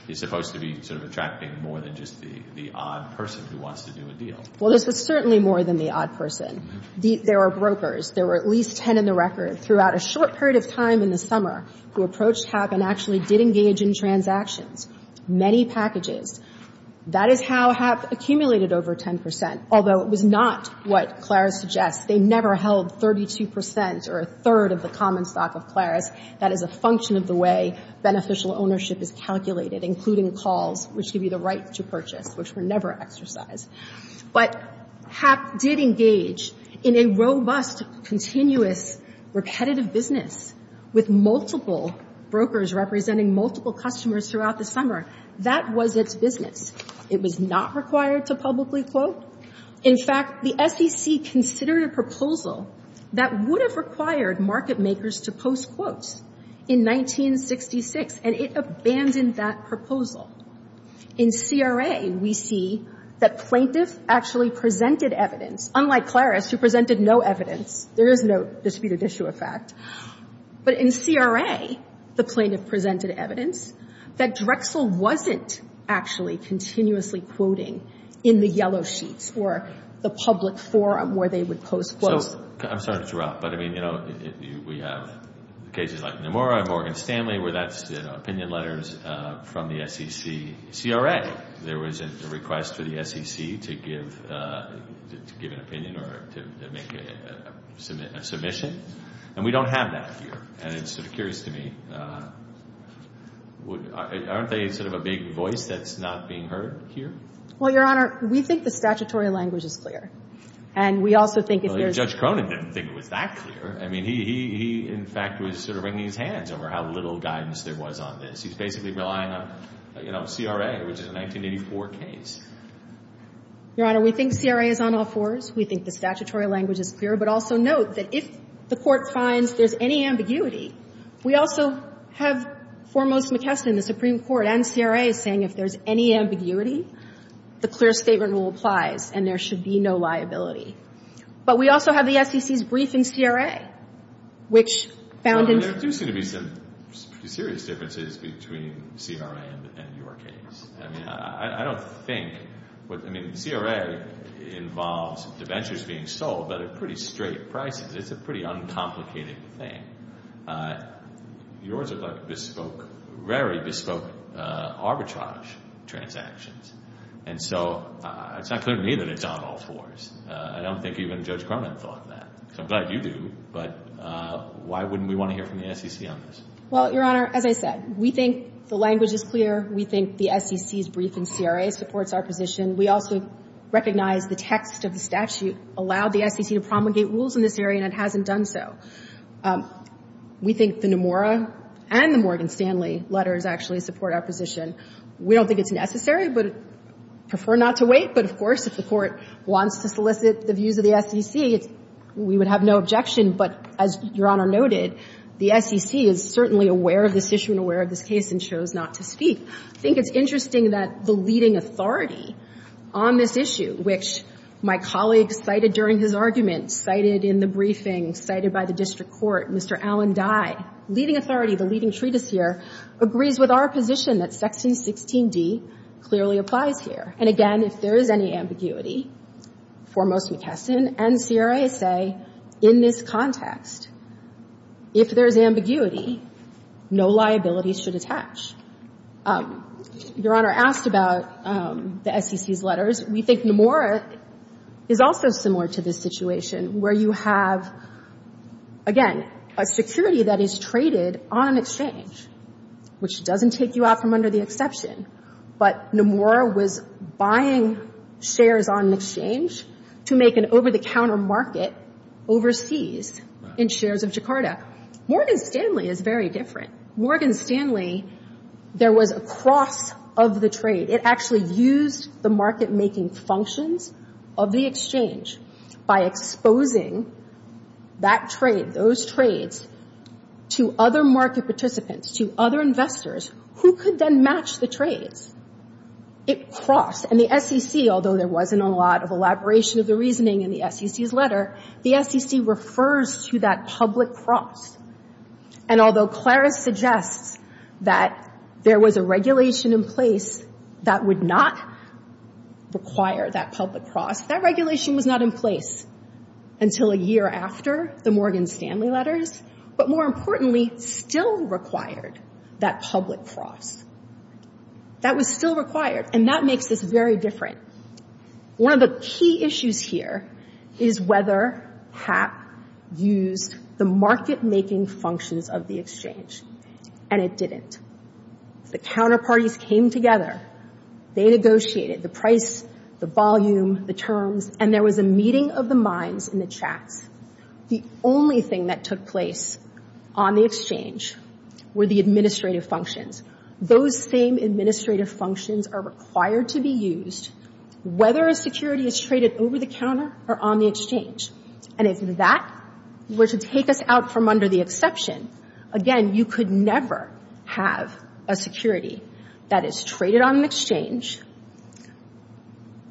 is supposed to be sort of attracting more than just the odd person who wants to do a deal. Well, this was certainly more than the odd person. There were brokers. There were at least 10 in the record throughout a short period of time in the summer who approached HAP and actually did engage in transactions. Many packages. That is how HAP accumulated over 10 percent, although it was not what Claris suggests. They never held 32 percent or a third of the common stock of Claris. That is a function of the way beneficial ownership is calculated, including calls, which give you the right to purchase, which were never exercised. But HAP did engage in a robust, continuous, repetitive business with multiple brokers representing multiple customers throughout the summer. That was its business. It was not required to publicly quote. In fact, the SEC considered a proposal that would have required market makers to post quotes in 1966, and it abandoned that proposal. In CRA, we see that plaintiff actually presented evidence, unlike Claris, who presented no evidence. There is no disputed issue of fact. But in CRA, the plaintiff presented evidence that Drexel wasn't actually continuously quoting in the yellow sheets or the public forum where they would post quotes. I'm sorry to interrupt, but, I mean, you know, we have cases like Nomura and Morgan Stanley where that's, you know, opinion letters from the SEC. In CRA, there was a request for the SEC to give an opinion or to make a submission, and we don't have that here. And it's sort of curious to me, aren't they sort of a big voice that's not being heard here? Well, Your Honor, we think the statutory language is clear. And we also think if there's no— Well, Judge Cronin didn't think it was that clear. I mean, he, in fact, was sort of wringing his hands over how little guidance there was on this. He's basically relying on, you know, CRA, which is a 1984 case. Your Honor, we think CRA is on all fours. We think the statutory language is clear. But also note that if the Court finds there's any ambiguity, we also have Foremost McKesson, the Supreme Court, and CRA saying if there's any ambiguity, the clear statement rule applies and there should be no liability. But we also have the SEC's brief in CRA, which found— Well, there do seem to be some serious differences between CRA and your case. I mean, I don't think—I mean, CRA involves debentures being sold at a pretty straight price. It's a pretty uncomplicated thing. Yours are very bespoke arbitrage transactions. And so it's not clear to me that it's on all fours. I don't think even Judge Cronin thought that. So I'm glad you do. But why wouldn't we want to hear from the SEC on this? Well, Your Honor, as I said, we think the language is clear. We think the SEC's brief in CRA supports our position. We also recognize the text of the statute allowed the SEC to promulgate rules in this area and it hasn't done so. We think the Nomura and the Morgan Stanley letters actually support our position. We don't think it's necessary, but prefer not to wait. But, of course, if the Court wants to solicit the views of the SEC, we would have no objection. But as Your Honor noted, the SEC is certainly aware of this issue and aware of this case and chose not to speak. I think it's interesting that the leading authority on this issue, which my colleague cited during his argument, cited in the briefing, cited by the district court, Mr. Allen Dye, leading authority, the leading treatise here, agrees with our position that Section 16d clearly applies here. And, again, if there is any ambiguity, foremost McKesson and CRA say in this context if there is ambiguity, no liabilities should attach. Your Honor asked about the SEC's letters. We think Nomura is also similar to this situation where you have, again, a security that is traded on an exchange, which doesn't take you out from under the exception. But Nomura was buying shares on an exchange to make an over-the-counter market overseas in shares of Jakarta. Morgan Stanley is very different. Morgan Stanley, there was a cross of the trade. It actually used the market-making functions of the exchange by exposing that trade, those trades, to other market participants, to other investors who could then match the trades. It crossed. And the SEC, although there wasn't a lot of elaboration of the reasoning in the SEC's letter, the SEC refers to that public cross. And although Claris suggests that there was a regulation in place that would not require that public cross, that regulation was not in place until a year after the Morgan Stanley letters, but more importantly, still required that public cross. That was still required, and that makes this very different. One of the key issues here is whether HAP used the market-making functions of the exchange, and it didn't. The counterparties came together. They negotiated the price, the volume, the terms, and there was a meeting of the minds in the chats. The only thing that took place on the exchange were the administrative functions. Those same administrative functions are required to be used whether a security is traded over-the-counter or on the exchange. And if that were to take us out from under the exception, again, you could never have a security that is traded on an exchange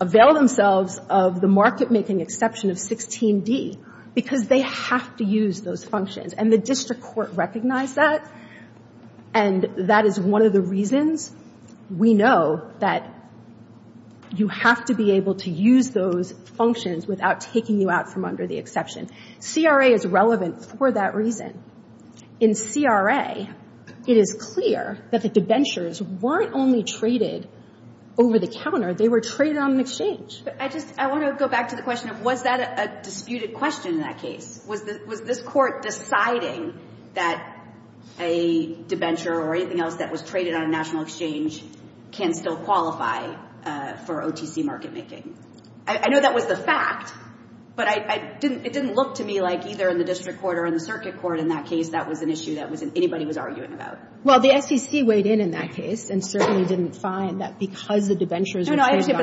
avail themselves of the market-making exception of 16d because they have to use those functions, and the district court recognized that, and that is one of the reasons we know that you have to be able to use those functions without taking you out from under the exception. CRA is relevant for that reason. In CRA, it is clear that the debentures weren't only traded over-the-counter. They were traded on an exchange. But I just want to go back to the question of was that a disputed question in that case? Was this court deciding that a debenture or anything else that was traded on a national exchange can still qualify for OTC market-making? I know that was the fact, but it didn't look to me like either in the district court or in the circuit court in that case that was an issue that anybody was arguing about. Well, the SEC weighed in in that case and certainly didn't find that because the debentures were traded on an exchange.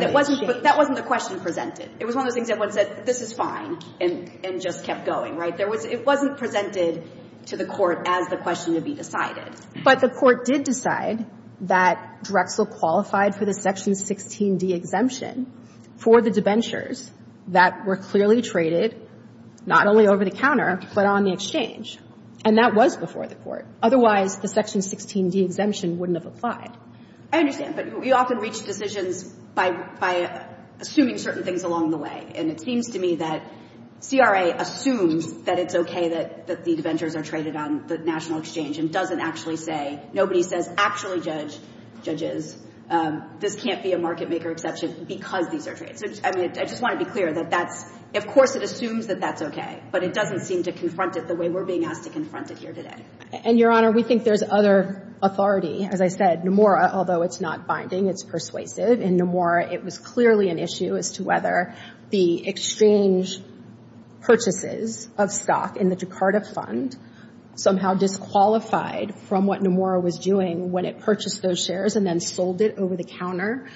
But that wasn't the question presented. It was one of those things that one said, this is fine, and just kept going, right? It wasn't presented to the court as the question to be decided. But the court did decide that Drexel qualified for the Section 16d exemption for the debentures that were clearly traded not only over-the-counter, but on the exchange. And that was before the court. Otherwise, the Section 16d exemption wouldn't have applied. I understand. But we often reach decisions by assuming certain things along the way. And it seems to me that CRA assumes that it's okay that the debentures are traded on the national exchange and doesn't actually say, nobody says actually judge judges. This can't be a market-maker exception because these are trades. I mean, I just want to be clear that that's, of course, it assumes that that's okay. But it doesn't seem to confront it the way we're being asked to confront it here today. And, Your Honor, we think there's other authority. As I said, Nomura, although it's not binding, it's persuasive. In Nomura, it was clearly an issue as to whether the exchange purchases of stock in the Jakarta fund somehow disqualified from what Nomura was doing when it purchased those shares and then sold it over-the-counter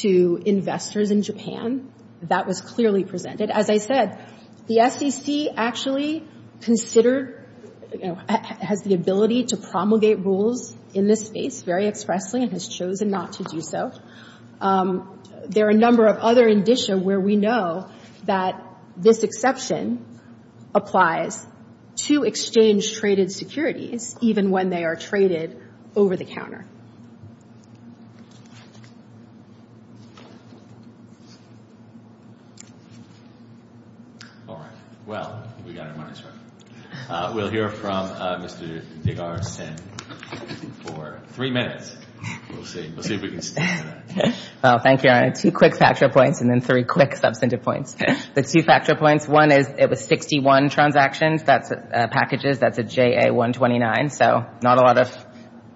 to investors in Japan. That was clearly presented. As I said, the SEC actually considered, has the ability to promulgate rules in this space very expressly and has chosen not to do so. There are a number of other indicia where we know that this exception applies to exchange-traded securities, even when they are traded over-the-counter. All right. Well, we got our money's worth. We'll hear from Mr. Digar-Sen for three minutes. We'll see if we can stick to that. Well, thank you, Your Honor. Two quick factor points and then three quick substantive points. The two factor points, one is it was 61 transactions, that's packages, that's a JA-129. So not a lot of,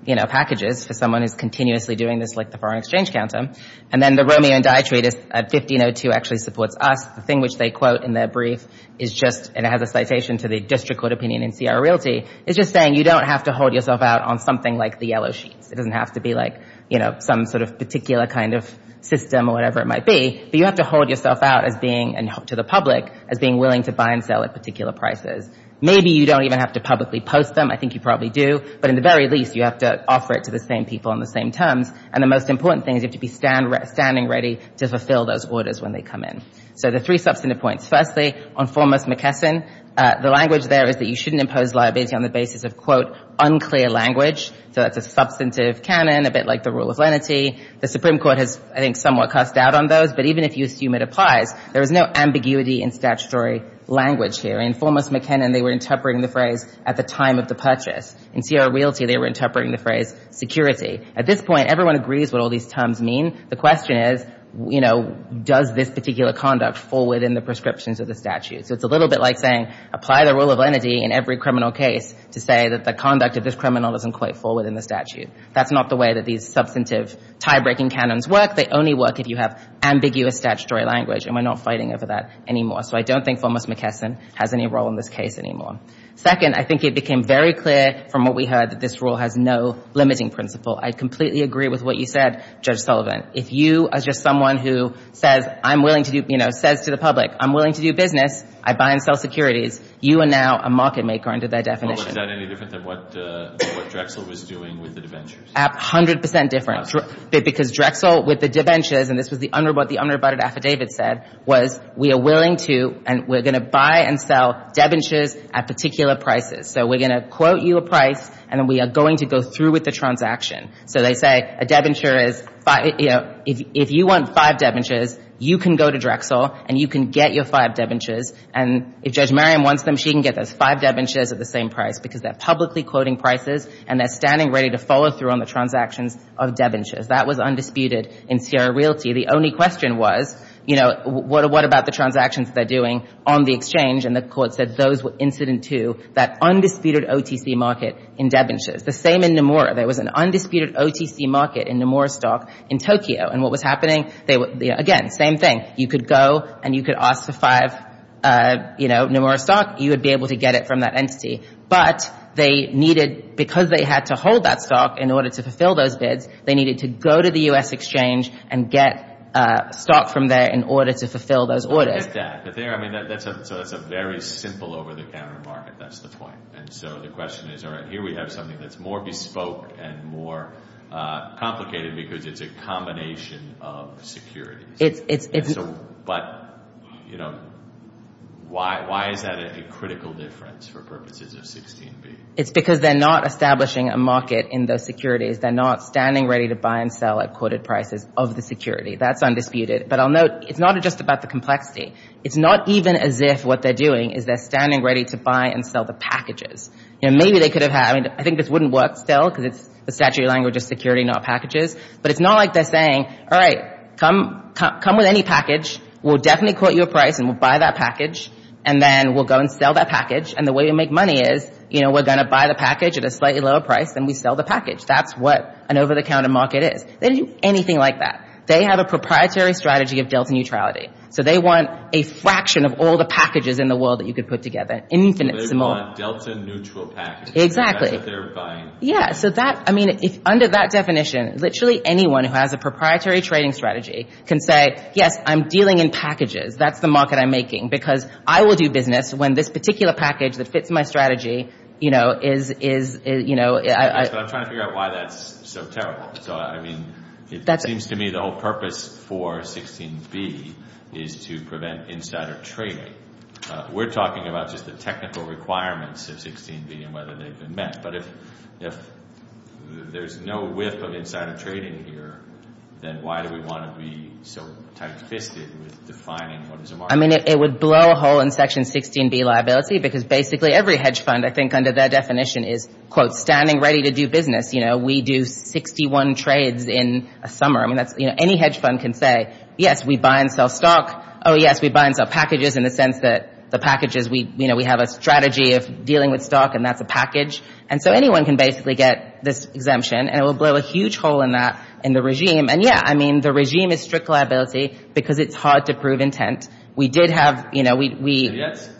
you know, packages for someone who's continuously doing this like the foreign exchange counter. And then the Romeo and Die trade is 1502 actually supports us. The thing which they quote in their brief is just, and it has a citation to the district court opinion in CR Realty, is just saying you don't have to hold yourself out on something like the yellow sheets. It doesn't have to be like, you know, some sort of particular kind of system or whatever it might be. But you have to hold yourself out as being, to the public, as being willing to buy and sell at particular prices. Maybe you don't even have to publicly post them. I think you probably do. But in the very least, you have to offer it to the same people on the same terms. And the most important thing is you have to be standing ready to fulfill those orders when they come in. So the three substantive points. Firstly, on foremost McKesson, the language there is that you shouldn't impose liability on the basis of, quote, unclear language. So that's a substantive canon, a bit like the rule of lenity. The Supreme Court has, I think, somewhat cussed out on those. But even if you assume it applies, there is no ambiguity in statutory language here. In foremost McKinnon, they were interpreting the phrase at the time of the purchase. In CR Realty, they were interpreting the phrase security. At this point, everyone agrees what all these terms mean. The question is, you know, does this particular conduct fall within the prescriptions of the statute? So it's a little bit like saying apply the rule of lenity in every criminal case to say that the conduct of this criminal doesn't quite fall within the statute. That's not the way that these substantive tie-breaking canons work. They only work if you have ambiguous statutory language. And we're not fighting over that anymore. So I don't think foremost McKesson has any role in this case anymore. Second, I think it became very clear from what we heard that this rule has no limiting principle. I completely agree with what you said, Judge Sullivan. If you are just someone who says, I'm willing to do, you know, says to the public, I'm willing to do business. I buy and sell securities. You are now a market maker under that definition. Well, was that any different than what Drexel was doing with the debentures? A hundred percent different. Because Drexel with the debentures, and this was what the unrebutted affidavit said, was we are willing to and we're going to buy and sell debentures at particular prices. So we're going to quote you a price and we are going to go through with the transaction. So they say a debenture is, you know, if you want five debentures, you can go to Drexel and you can get your five debentures. And if Judge Merriam wants them, she can get those five debentures at the same price because they're publicly quoting prices and they're standing ready to follow through on the transactions of debentures. That was undisputed in Sierra Realty. The only question was, you know, what about the transactions they're doing on the exchange? And the court said those were incident to that undisputed OTC market in debentures. The same in Nomura. There was an undisputed OTC market in Nomura stock in Tokyo. And what was happening, again, same thing. You could go and you could ask for five, you know, Nomura stock. You would be able to get it from that entity. But they needed, because they had to hold that stock in order to fulfill those bids, they needed to go to the U.S. exchange and get stock from there in order to fulfill those orders. I get that. So that's a very simple over-the-counter market. That's the point. And so the question is, all right, here we have something that's more bespoke and more complicated because it's a combination of securities. But, you know, why is that a critical difference for purposes of 16B? It's because they're not establishing a market in those securities. They're not standing ready to buy and sell at quoted prices of the security. That's undisputed. But I'll note it's not just about the complexity. It's not even as if what they're doing is they're standing ready to buy and sell the packages. You know, maybe they could have had, I mean, I think this wouldn't work still because it's the statutory language of security, not packages. But it's not like they're saying, all right, come with any package. We'll definitely quote you a price and we'll buy that package. And then we'll go and sell that package. And the way we make money is, you know, we're going to buy the package at a slightly lower price than we sell the package. That's what an over-the-counter market is. They didn't do anything like that. They have a proprietary strategy of delta neutrality. So they want a fraction of all the packages in the world that you could put together, infinitesimal. So they want delta neutral packages. Exactly. That's what they're buying. Yeah. So that, I mean, under that definition, literally anyone who has a proprietary trading strategy can say, yes, I'm dealing in packages. That's the market I'm making because I will do business when this particular package that fits my strategy, you know, is, you know. But I'm trying to figure out why that's so terrible. So, I mean, it seems to me the whole purpose for 16B is to prevent insider trading. We're talking about just the technical requirements of 16B and whether they've been met. But if there's no whiff of insider trading here, then why do we want to be so tight-fisted with defining what is a market? I mean, it would blow a hole in Section 16B liability because basically every hedge fund, I think, under that definition is, quote, standing ready to do business. You know, we do 61 trades in a summer. I mean, that's, you know, any hedge fund can say, yes, we buy and sell stock. Oh, yes, we buy and sell packages in the sense that the packages, you know, we have a strategy of dealing with stock and that's a package. And so anyone can basically get this exemption, and it will blow a huge hole in that, in the regime. And, yeah, I mean, the regime is strict liability because it's hard to prove intent. We did have, you know, we. And yet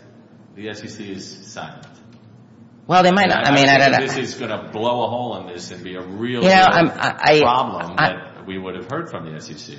the SEC is silent. Well, they might not. I mean, I don't know. I think this is going to blow a hole in this and be a real problem that we would have heard from the SEC.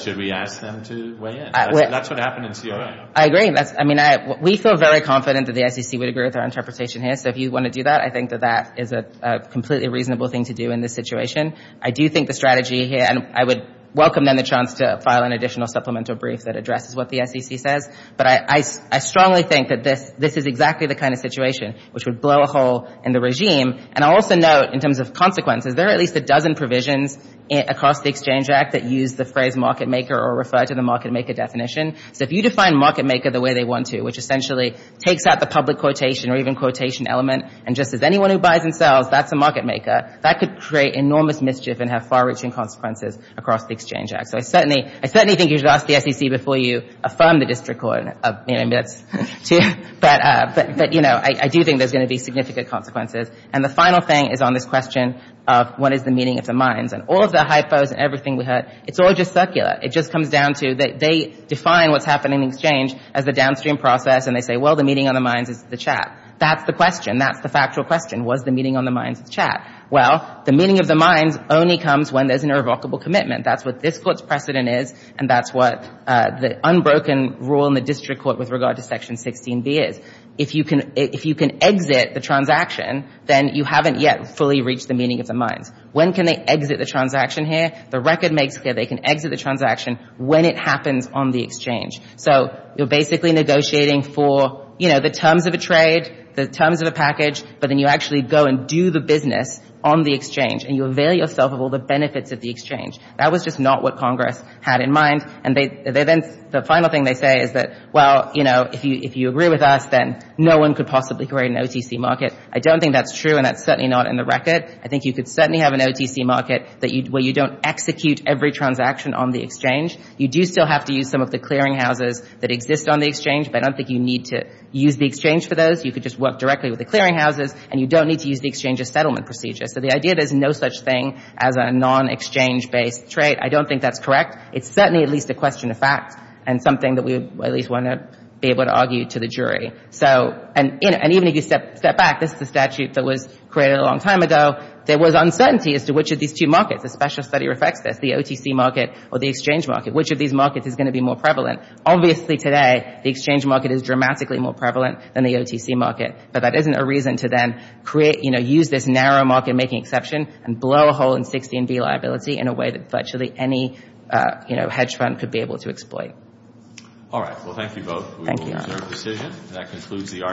Should we ask them to weigh in? That's what happened in CIO. I agree. I mean, we feel very confident that the SEC would agree with our interpretation here. So if you want to do that, I think that that is a completely reasonable thing to do in this situation. I do think the strategy here, and I would welcome, then, the chance to file an additional supplemental brief that addresses what the SEC says. But I strongly think that this is exactly the kind of situation which would blow a hole in the regime. And I'll also note, in terms of consequences, there are at least a dozen provisions across the Exchange Act that use the phrase market maker or refer to the market maker definition. So if you define market maker the way they want to, which essentially takes out the public quotation or even quotation element, and just as anyone who buys and sells, that's a market maker, that could create enormous mischief and have far-reaching consequences across the Exchange Act. So I certainly think you should ask the SEC before you affirm the district court. But, you know, I do think there's going to be significant consequences. And the final thing is on this question of what is the meaning of the mines. And all of the hypos and everything we heard, it's all just circular. It just comes down to they define what's happening in the Exchange as the downstream process, and they say, well, the meaning of the mines is the chat. That's the question. That's the factual question. What is the meaning of the mines is chat? Well, the meaning of the mines only comes when there's an irrevocable commitment. That's what this court's precedent is, and that's what the unbroken rule in the district court with regard to Section 16B is. If you can exit the transaction, then you haven't yet fully reached the meaning of the mines. When can they exit the transaction here? The record makes it that they can exit the transaction when it happens on the Exchange. So you're basically negotiating for, you know, the terms of a trade, the terms of a package, but then you actually go and do the business on the Exchange, and you avail yourself of all the benefits of the Exchange. That was just not what Congress had in mind. And then the final thing they say is that, well, you know, if you agree with us, then no one could possibly create an OTC market. I don't think that's true, and that's certainly not in the record. I think you could certainly have an OTC market where you don't execute every transaction on the Exchange. You do still have to use some of the clearinghouses that exist on the Exchange, but I don't think you need to use the Exchange for those. You could just work directly with the clearinghouses, and you don't need to use the Exchange as settlement procedure. So the idea there's no such thing as a non-Exchange-based trade, I don't think that's correct. It's certainly at least a question of fact and something that we at least want to be able to argue to the jury. And even if you step back, this is a statute that was created a long time ago. There was uncertainty as to which of these two markets, a special study reflects this, the OTC market or the Exchange market, which of these markets is going to be more prevalent. Obviously today the Exchange market is dramatically more prevalent than the OTC market, but that isn't a reason to then create, you know, use this narrow market making exception and blow a hole in 16B liability in a way that virtually any hedge fund could be able to exploit. All right. Well, thank you both. We will reserve decision. That concludes the argument.